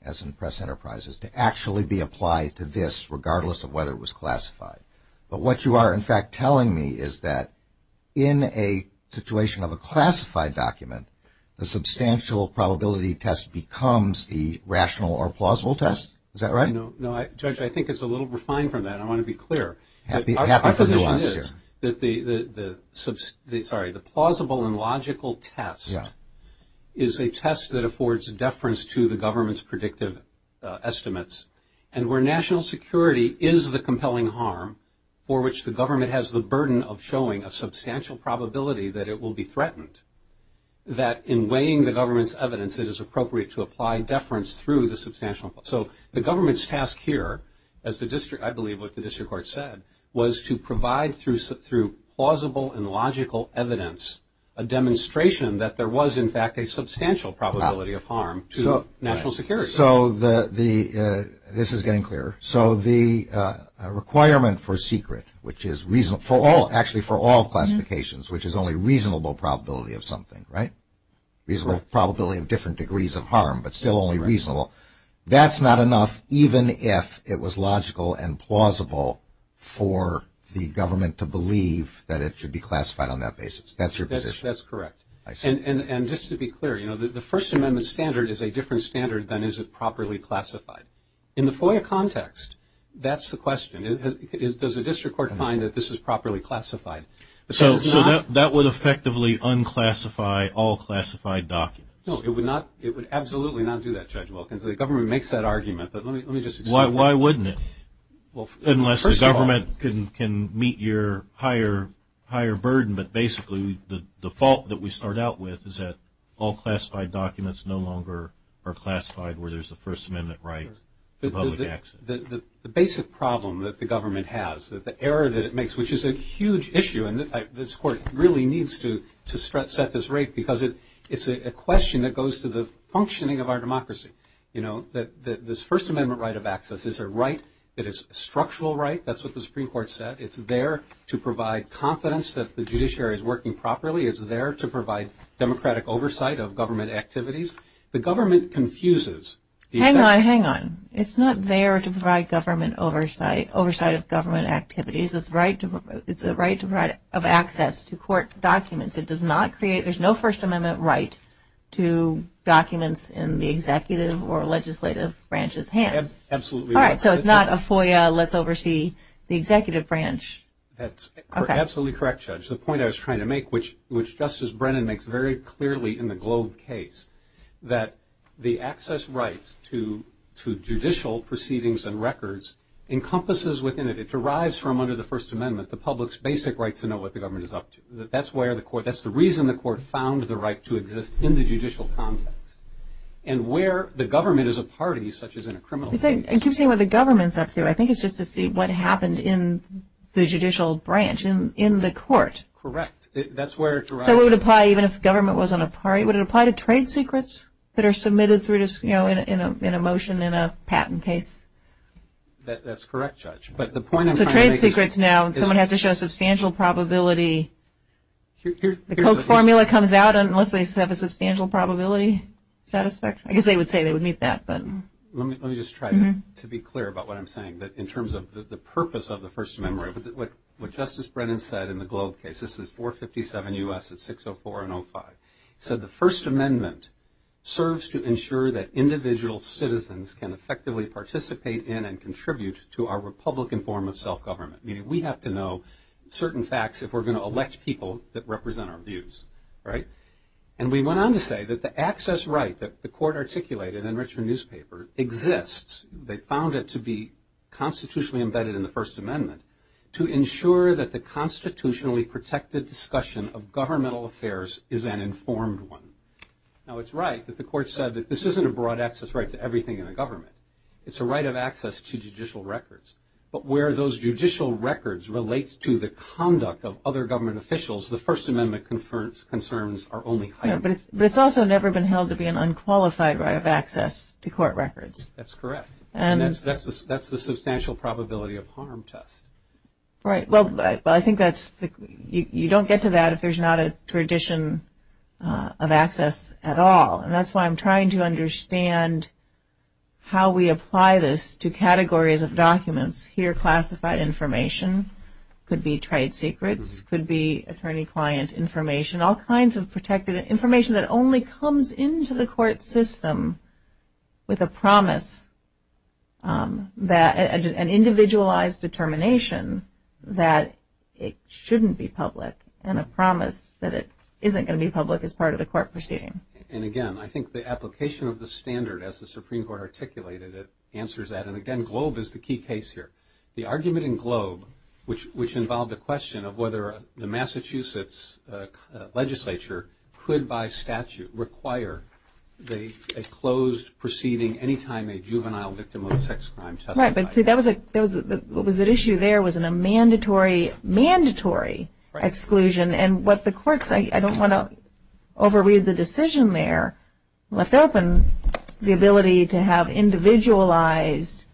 as in press enterprises, to actually be applied to this, regardless of whether it was classified. But what you are, in fact, telling me is that in a situation of a classified document, the substantial probability test becomes the rational or plausible test. Is that right? No, Judge, I think it's a little refined from that. I want to be clear. The plausible and logical test is a test that affords deference to the government's predictive estimates. And where national security is the compelling harm for which the government has the burden of showing a substantial probability that it will be threatened, that in weighing the government's evidence, it is appropriate to apply deference through the substantial. So the government's task here, as I believe what the district court said, was to provide through plausible and logical evidence a demonstration that there was, in fact, a substantial probability of harm to national security. So this is getting clearer. So the requirement for secret, which is actually for all classifications, which is only reasonable probability of something, right, reasonable probability of different degrees of harm but still only reasonable, that's not enough even if it was logical and plausible for the government to believe that it should be classified on that basis. That's your position. That's correct. And just to be clear, you know, the First Amendment standard is a different standard than is it properly classified. In the FOIA context, that's the question. Does the district court find that this is properly classified? So that would effectively unclassify all classified documents. No, it would not. It would absolutely not do that, Judge Wilkins. The government makes that argument, but let me just explain. Why wouldn't it? Unless the government can meet your higher burden, but basically the fault that we start out with is that all classified documents no longer are classified where there's a First Amendment right. The basic problem that the government has, the error that it makes, which is a huge issue, and this court really needs to set this right because it's a question that goes to the functioning of our democracy, you know, that this First Amendment right of access is a right that is a structural right. That's what the Supreme Court said. It's there to provide confidence that the judiciary is working properly. It's there to provide democratic oversight of government activities. The government confuses. Hang on, hang on. It's not there to provide government oversight, oversight of government activities. It's a right of access to court documents. There's no First Amendment right to documents in the executive or legislative branches' hands. Absolutely. All right, so it's not a FOIA, let's oversee the executive branch. That's absolutely correct, Judge. The point I was trying to make, which Justice Brennan makes very clearly in the Globe case, that the access right to judicial proceedings and records encompasses within it. It derives from under the First Amendment the public's basic right to know what the government is up to. That's the reason the court found the right to exist in the judicial context. And where the government is a party, such as in a criminal case. It keeps saying what the government's up to. I think it's just to see what happened in the judicial branch, in the court. Correct. That's where it derives. So it would apply even if the government wasn't a party? Would it apply to trade secrets that are submitted in a motion in a patent case? That's correct, Judge. So trade secrets now, someone has to show a substantial probability. The Coke formula comes out unless they have a substantial probability. I guess they would say they would meet that. Let me just try to be clear about what I'm saying in terms of the purpose of the First Amendment. What Justice Brennan said in the Globe case, this is 457 U.S., it's 604 and 05. He said the First Amendment serves to ensure that individual citizens can effectively participate in and contribute to our republican form of self-government. Meaning we have to know certain facts if we're going to elect people that represent our views. And we went on to say that the access right that the court articulated in Richard's newspaper exists, they found it to be constitutionally embedded in the First Amendment, to ensure that the constitutionally protected discussion of governmental affairs is an informed one. Now it's right that the court said that this isn't a broad access right to everything in the government. It's a right of access to judicial records. But where those judicial records relate to the conduct of other government officials, the First Amendment concerns are only heightened. But it's also never been held to be an unqualified right of access to court records. That's correct. And that's the substantial probability of harm test. Right. Well, I think you don't get to that if there's not a tradition of access at all. And that's why I'm trying to understand how we apply this to categories of documents. Here classified information could be trade secrets, could be attorney-client information, all kinds of protected information that only comes into the court system with a promise that an individualized determination that it shouldn't be public and a promise that it isn't going to be public as part of the court proceeding. And, again, I think the application of the standard, as the Supreme Court articulated it, answers that. And, again, Globe is the key case here. The argument in Globe, which involved the question of whether the Massachusetts legislature could, by statute, require a closed proceeding any time a juvenile victim of a sex crime testified. Right. But see, the issue there was in a mandatory exclusion. And what the court said, I don't want to overread the decision there, left open the ability to have individualized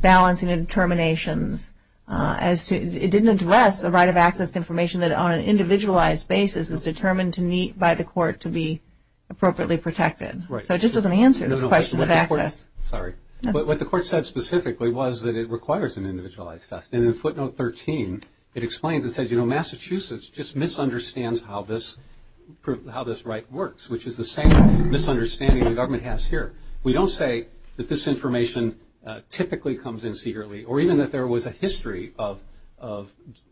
balancing determinations as to – it didn't address the right of access to information that on an individualized basis is determined to meet by the court to be appropriately protected. Right. So it just doesn't answer the question of access. Sorry. What the court said specifically was that it requires an individualized test. And in footnote 13, it explains and says, you know, Massachusetts just misunderstands how this right works, which is the same misunderstanding the government has here. We don't say that this information typically comes in secretly or even that there was a history of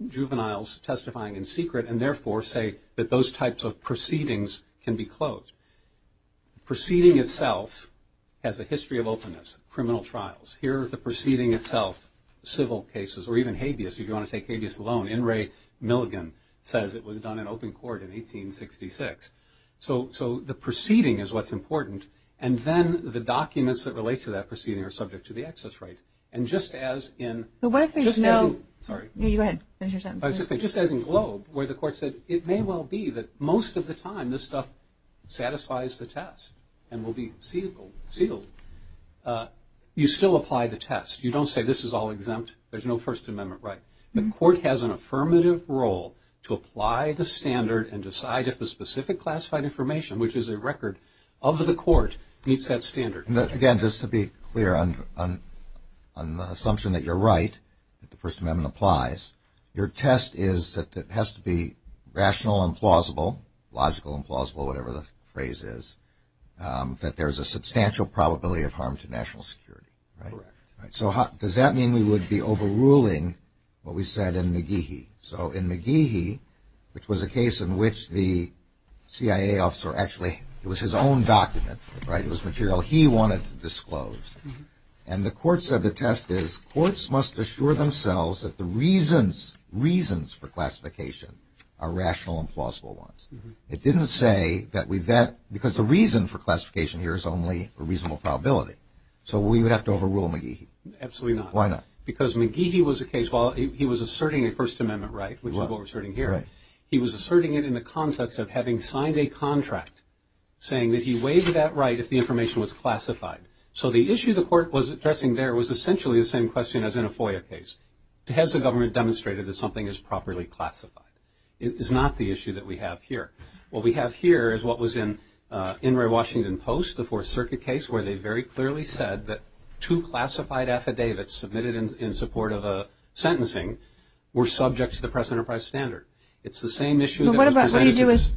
juveniles testifying in secret and, therefore, say that those types of proceedings can be closed. Proceeding itself has a history of openness, criminal trials. Here are the proceeding itself, civil cases, or even habeas. If you want to take habeas alone, N. Ray Milligan says it was done in open court in 1866. So the proceeding is what's important, and then the documents that relate to that proceeding are subject to the access right. And just as in Globe, where the court said it may well be that most of the time this stuff satisfies the test and will be sealed, you still apply the test. You don't say this is all exempt, there's no First Amendment right. The court has an affirmative role to apply the standard and decide if the specific classified information, which is a record of the court, meets that standard. Again, just to be clear on the assumption that you're right, that the First Amendment applies, your test is that it has to be rational and plausible, logical and plausible, whatever the phrase is, that there's a substantial probability of harm to national security. So does that mean we would be overruling what we said in McGehee? So in McGehee, which was a case in which the CIA officer actually, it was his own document, right, it was material he wanted to disclose, and the court said the test is courts must assure themselves that the reasons for classification are rational and plausible ones. It didn't say that we vet, because the reason for classification here is only a reasonable probability. So we would have to overrule McGehee. Absolutely not. Why not? Because McGehee was a case, while he was asserting a First Amendment right, which is what we're asserting here, he was asserting it in the context of having signed a contract saying that he waived that right if the information was classified. So the issue the court was addressing there was essentially the same question as in a FOIA case. Has the government demonstrated that something is properly classified? It is not the issue that we have here. What we have here is what was in Enroy Washington Post, the Fourth Circuit case, where they very clearly said that two classified affidavits submitted in support of a sentencing were subject to the present enterprise standard. It's the same issue. What do you do with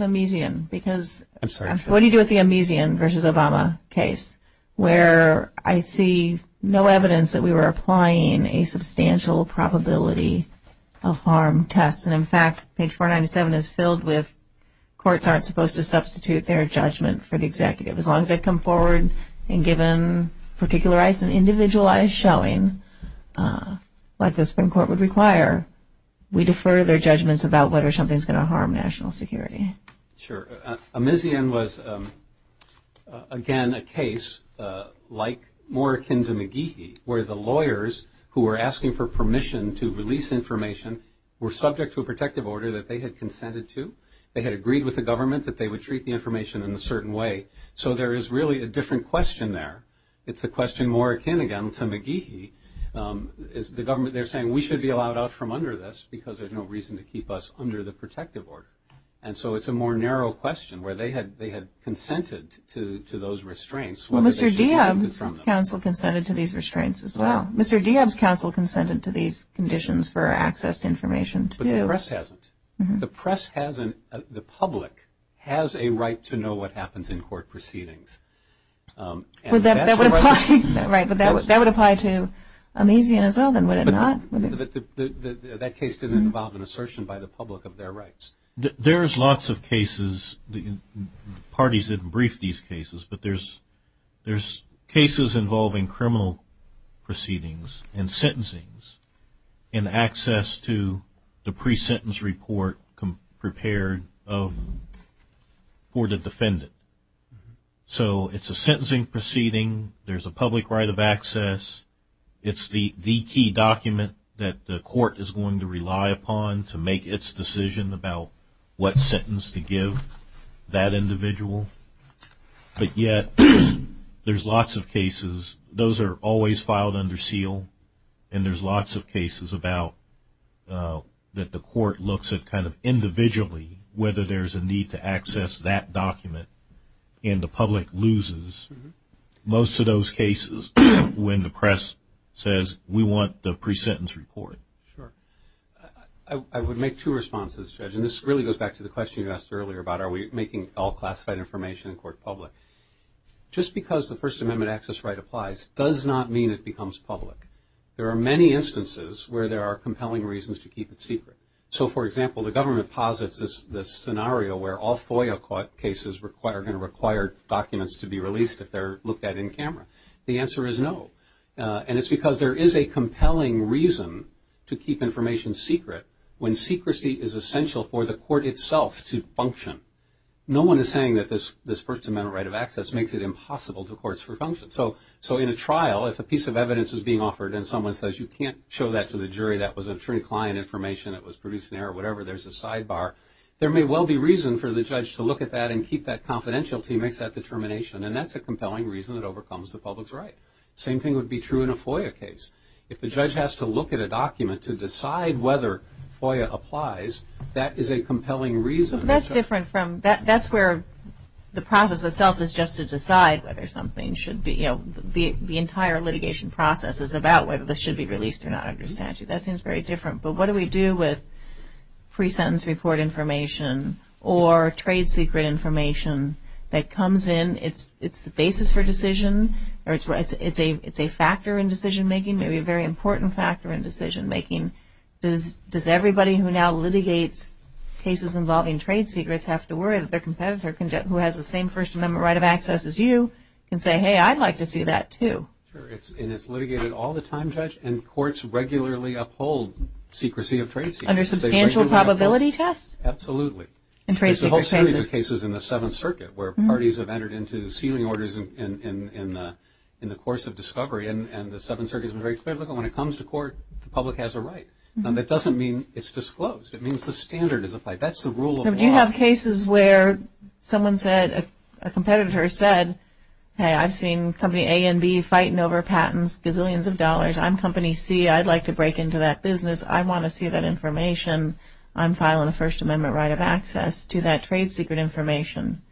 the Amesian versus Obama case, where I see no evidence that we were applying a substantial probability of harm test and, in fact, page 497 is filled with courts aren't supposed to substitute their judgment for the executive. As long as they come forward and given particularized and individualized showing, like the Supreme Court would require, we defer their judgments about whether something is going to harm national security. Sure. Amesian was, again, a case like more akin to McGehee, where the lawyers who were asking for permission to release information were subject to a protective order that they had consented to. They had agreed with the government that they would treat the information in a certain way. So there is really a different question there. It's a question more akin, again, to McGehee. They're saying we should be allowed out from under this because there's no reason to keep us under the protective order. And so it's a more narrow question where they had consented to those restraints. Well, Mr. Dieb's counsel consented to these restraints as well. Mr. Dieb's counsel consented to these conditions for access to information, too. But the press hasn't. The press hasn't. The public has a right to know what happens in court proceedings. Right, but that would apply to Amesian as well, then, would it not? That case could involve an assertion by the public of their rights. There's lots of cases. The parties didn't brief these cases, but there's cases involving criminal proceedings and sentencing and access to the pre-sentence report prepared for the defendant. So it's a sentencing proceeding. There's a public right of access. It's the key document that the court is going to rely upon to make its decision about what sentence to give that individual. But yet there's lots of cases. Those are always filed under seal, and there's lots of cases that the court looks at kind of individually whether there's a need to access that document, and the public loses most of those cases when the press says, we want the pre-sentence report. I would make two responses, Judge, and this really goes back to the question you asked earlier about are we making all classified information in court public. Just because the First Amendment access right applies does not mean it becomes public. There are many instances where there are compelling reasons to keep it secret. So, for example, the government posits this scenario where all FOIA cases are going to require documents to be released if they're looked at in camera. The answer is no, and it's because there is a compelling reason to keep information secret when secrecy is essential for the court itself to function. No one is saying that this First Amendment right of access makes it impossible for courts to function. So in a trial, if a piece of evidence is being offered and someone says you can't show that to the jury, that was a true client information, it was produced in error, whatever, there's a sidebar. There may well be reason for the judge to look at that and keep that confidentiality and make that determination, and that's a compelling reason it overcomes the public's right. The same thing would be true in a FOIA case. If the judge has to look at a document to decide whether FOIA applies, that is a compelling reason. That's different from, that's where the process itself is just to decide whether something should be, you know, the entire litigation process is about whether this should be released or not under statute. That seems very different. But what do we do with pre-sentence report information or trade secret information that comes in, and it's the basis for decision, or it's a factor in decision-making, maybe a very important factor in decision-making. Does everybody who now litigates cases involving trade secrets have to worry that their competitor who has the same First Amendment right of access as you can say, hey, I'd like to see that too? Sure, and it's litigated all the time, Judge, and courts regularly uphold secrecy of trade secrets. Under substantial probability tests? Absolutely. There's a whole series of cases in the Seventh Circuit where parties have entered into sealing orders in the course of discovery, and the Seventh Circuit has been very clear, look, when it comes to court, the public has a right. And that doesn't mean it's disclosed. It means the standard is applied. That's the rule of law. Do you have cases where someone said, a competitor said, hey, I've seen company A and B fighting over patents, gazillions of dollars. I'm company C. I'd like to break into that business. I want to see that information on file in the First Amendment right of access to that trade secret information.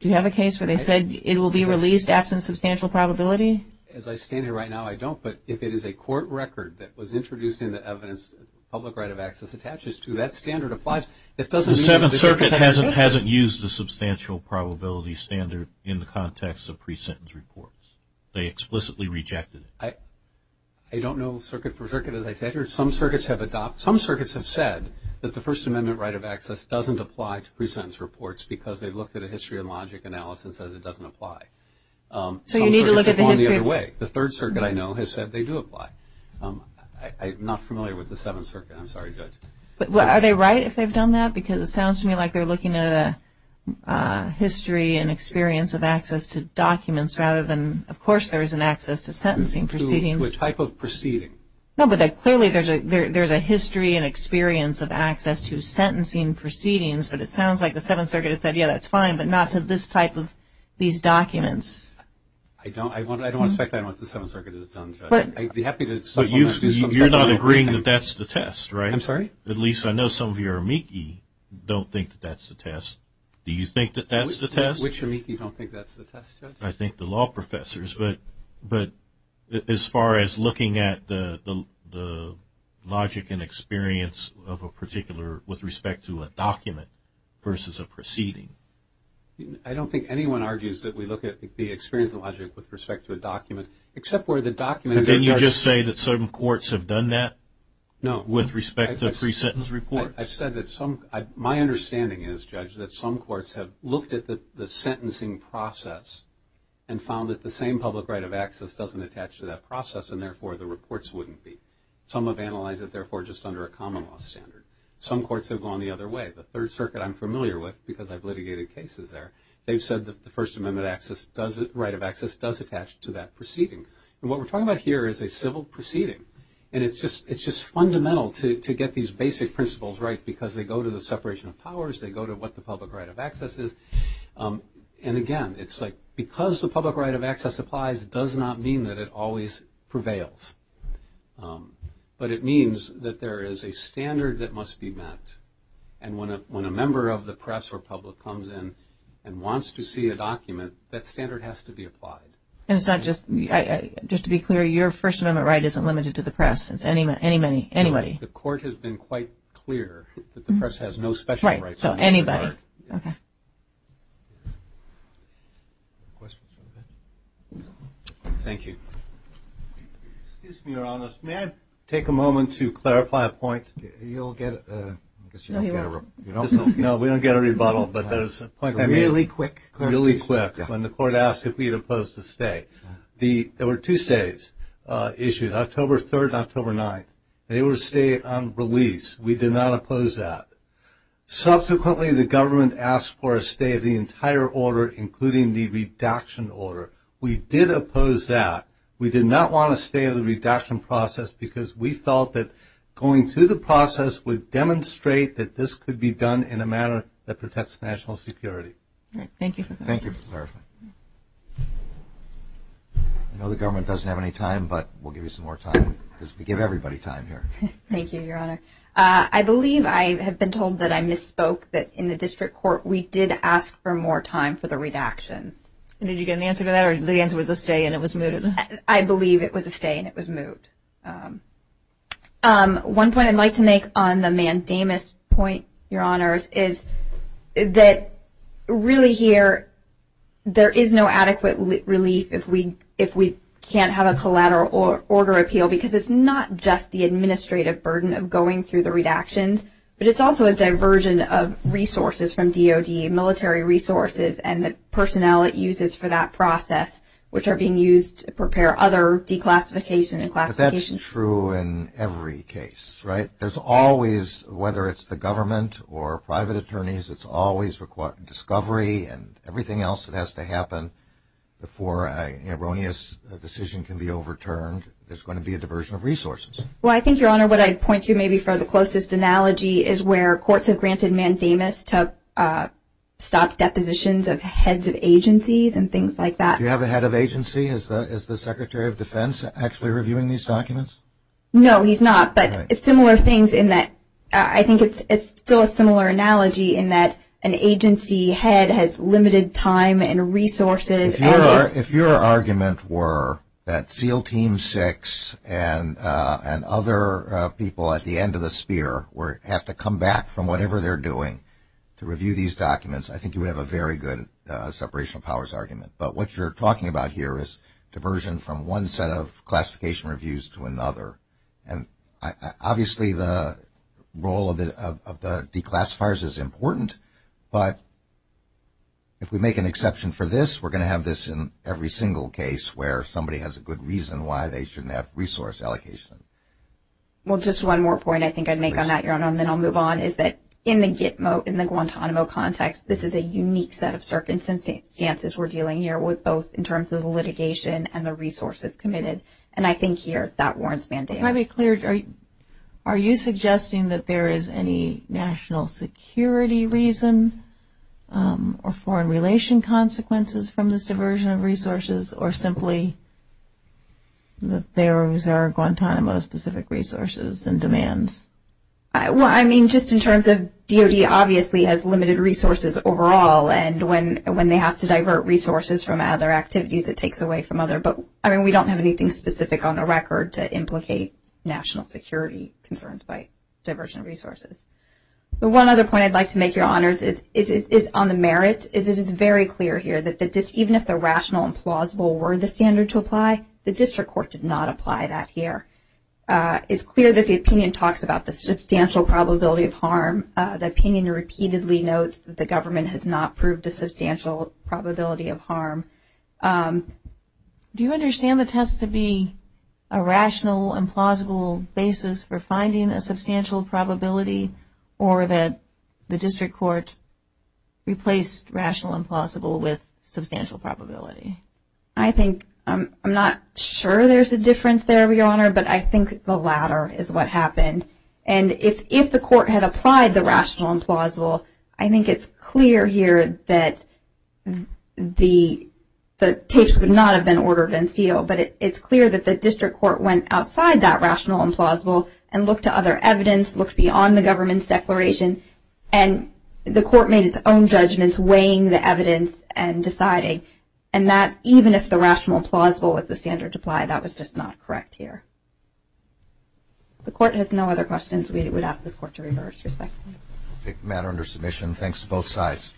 Do you have a case where they said it will be released absent substantial probability? As I stand here right now, I don't. But if it is a court record that was introduced in the evidence the public right of access attaches to, that standard applies. The Seventh Circuit hasn't used the substantial probability standard in the context of pre-sentence reports. They explicitly rejected it. I don't know circuit for circuit as I stand here. Some circuits have said that the First Amendment right of access doesn't apply to pre-sentence reports because they looked at a history of logic analysis and it doesn't apply. So you need to look at the history. The Third Circuit, I know, has said they do apply. I'm not familiar with the Seventh Circuit. I'm sorry, Judge. Are they right if they've done that? Because it sounds to me like they're looking at a history and experience of access to documents rather than, of course, there is an access to sentencing proceedings. To a type of proceeding. No, but clearly there's a history and experience of access to sentencing proceedings, but it sounds like the Seventh Circuit has said, yeah, that's fine, but not to this type of these documents. I don't expect that on the Seventh Circuit. But you're not agreeing that that's the test, right? I'm sorry? At least I know some of your amici don't think that that's the test. Do you think that that's the test? Which amici don't think that's the test? I think the law professors, but as far as looking at the logic and experience of a particular with respect to a document versus a proceeding. I don't think anyone argues that we look at the experience and logic with respect to a document, except where the document is. Didn't you just say that certain courts have done that with respect to a pre-sentence report? My understanding is, Judge, that some courts have looked at the sentencing process and found that the same public right of access doesn't attach to that process, and therefore the reports wouldn't be. Some have analyzed it, therefore, just under a common law standard. Some courts have gone the other way. The Third Circuit I'm familiar with because I've litigated cases there. They've said that the First Amendment right of access does attach to that proceeding. And what we're talking about here is a civil proceeding, and it's just fundamental to get these basic principles right because they go to the separation of powers, they go to what the public right of access is. And, again, it's like because the public right of access applies does not mean that it always prevails, but it means that there is a standard that must be met. And when a member of the press or public comes in and wants to see a document, that standard has to be applied. And it's not just to be clear, your First Amendment right isn't limited to the press. It's anybody. The court has been quite clear that the press has no special rights. Right, so anybody. Okay. Thank you. Excuse me, Your Honor. May I take a moment to clarify a point? You'll get a – No, you won't. No, we don't get a rebuttal, but that is a point of view. Really quick. Really quick. When the court asked if we'd oppose the stay, there were two stays issued, October 3rd and October 9th. They were stayed on release. We did not oppose that. Subsequently, the government asked for a stay of the entire order, including the redaction order. We did oppose that. We did not want a stay of the redaction process because we felt that going through the process would demonstrate that this could be done in a manner that protects national security. Thank you for clarifying. Thank you for clarifying. I know the government doesn't have any time, but we'll give you some more time because we give everybody time here. Thank you, Your Honor. I believe I have been told that I misspoke that in the district court we did ask for more time for the redaction. Did you get an answer to that or the answer was a stay and it was moved? I believe it was a stay and it was moved. One point I'd like to make on the Mandamus point, Your Honors, is that really here there is no adequate relief if we can't have a collateral order appeal because it's not just the administrative burden of going through the redactions, but it's also a diversion of resources from DOD, military resources, and the personnel it uses for that process, which are being used to prepare other declassification and classifications. But that's true in every case, right? There's always, whether it's the government or private attorneys, it's always required discovery and everything else that has to happen before an erroneous decision can be overturned. There's going to be a diversion of resources. Well, I think, Your Honor, what I'd point to maybe for the closest analogy is where courts have granted Mandamus to stop depositions of heads of agencies and things like that. Do you have a head of agency? Is the Secretary of Defense actually reviewing these documents? No, he's not, but it's similar things in that I think it's still a similar analogy in that an agency head has limited time and resources. If your argument were that SEAL Team 6 and other people at the end of the spear have to come back from whatever they're doing to review these documents, I think you would have a very good separation of powers argument. But what you're talking about here is diversion from one set of classification reviews to another. And obviously the role of the declassifiers is important, but if we make an exception for this, we're going to have this in every single case where somebody has a good reason why they shouldn't have resource allocation. Well, just one more point I think I'd make on that, Your Honor, and then I'll move on, is that in the Gitmo, in the Guantanamo context, this is a unique set of circumstances we're dealing here with both in terms of litigation and the resources committed, and I think here that warrants mandate. Can I be clear? Are you suggesting that there is any national security reason or foreign relation consequences from this diversion of resources or simply that there was a Guantanamo-specific resources and demands? Well, I mean, just in terms of DOD obviously has limited resources overall, and when they have to divert resources from other activities, it takes away from other. But, I mean, we don't have anything specific on the record to implicate national security concerns by diversion of resources. The one other point I'd like to make, Your Honors, is on the merit. It is very clear here that even if the rational and plausible were the standard to apply, the district court did not apply that here. It's clear that the opinion talks about the substantial probability of harm. The opinion repeatedly notes that the government has not proved the substantial probability of harm. Do you understand the test to be a rational and plausible basis for finding a substantial probability or that the district court replaced rational and plausible with substantial probability? I think I'm not sure there's a difference there, Your Honor, but I think the latter is what happened. And if the court had applied the rational and plausible, I think it's clear here that the case would not have been ordered and sealed. But it's clear that the district court went outside that rational and plausible and looked to other evidence, looked beyond the government's declaration, and the court made its own judgments weighing the evidence and deciding. And that even if the rational and plausible was the standard to apply, that was just not correct here. If the court has no other questions, we would ask the court to reverse your session. I take the matter under submission. Thanks to both sides.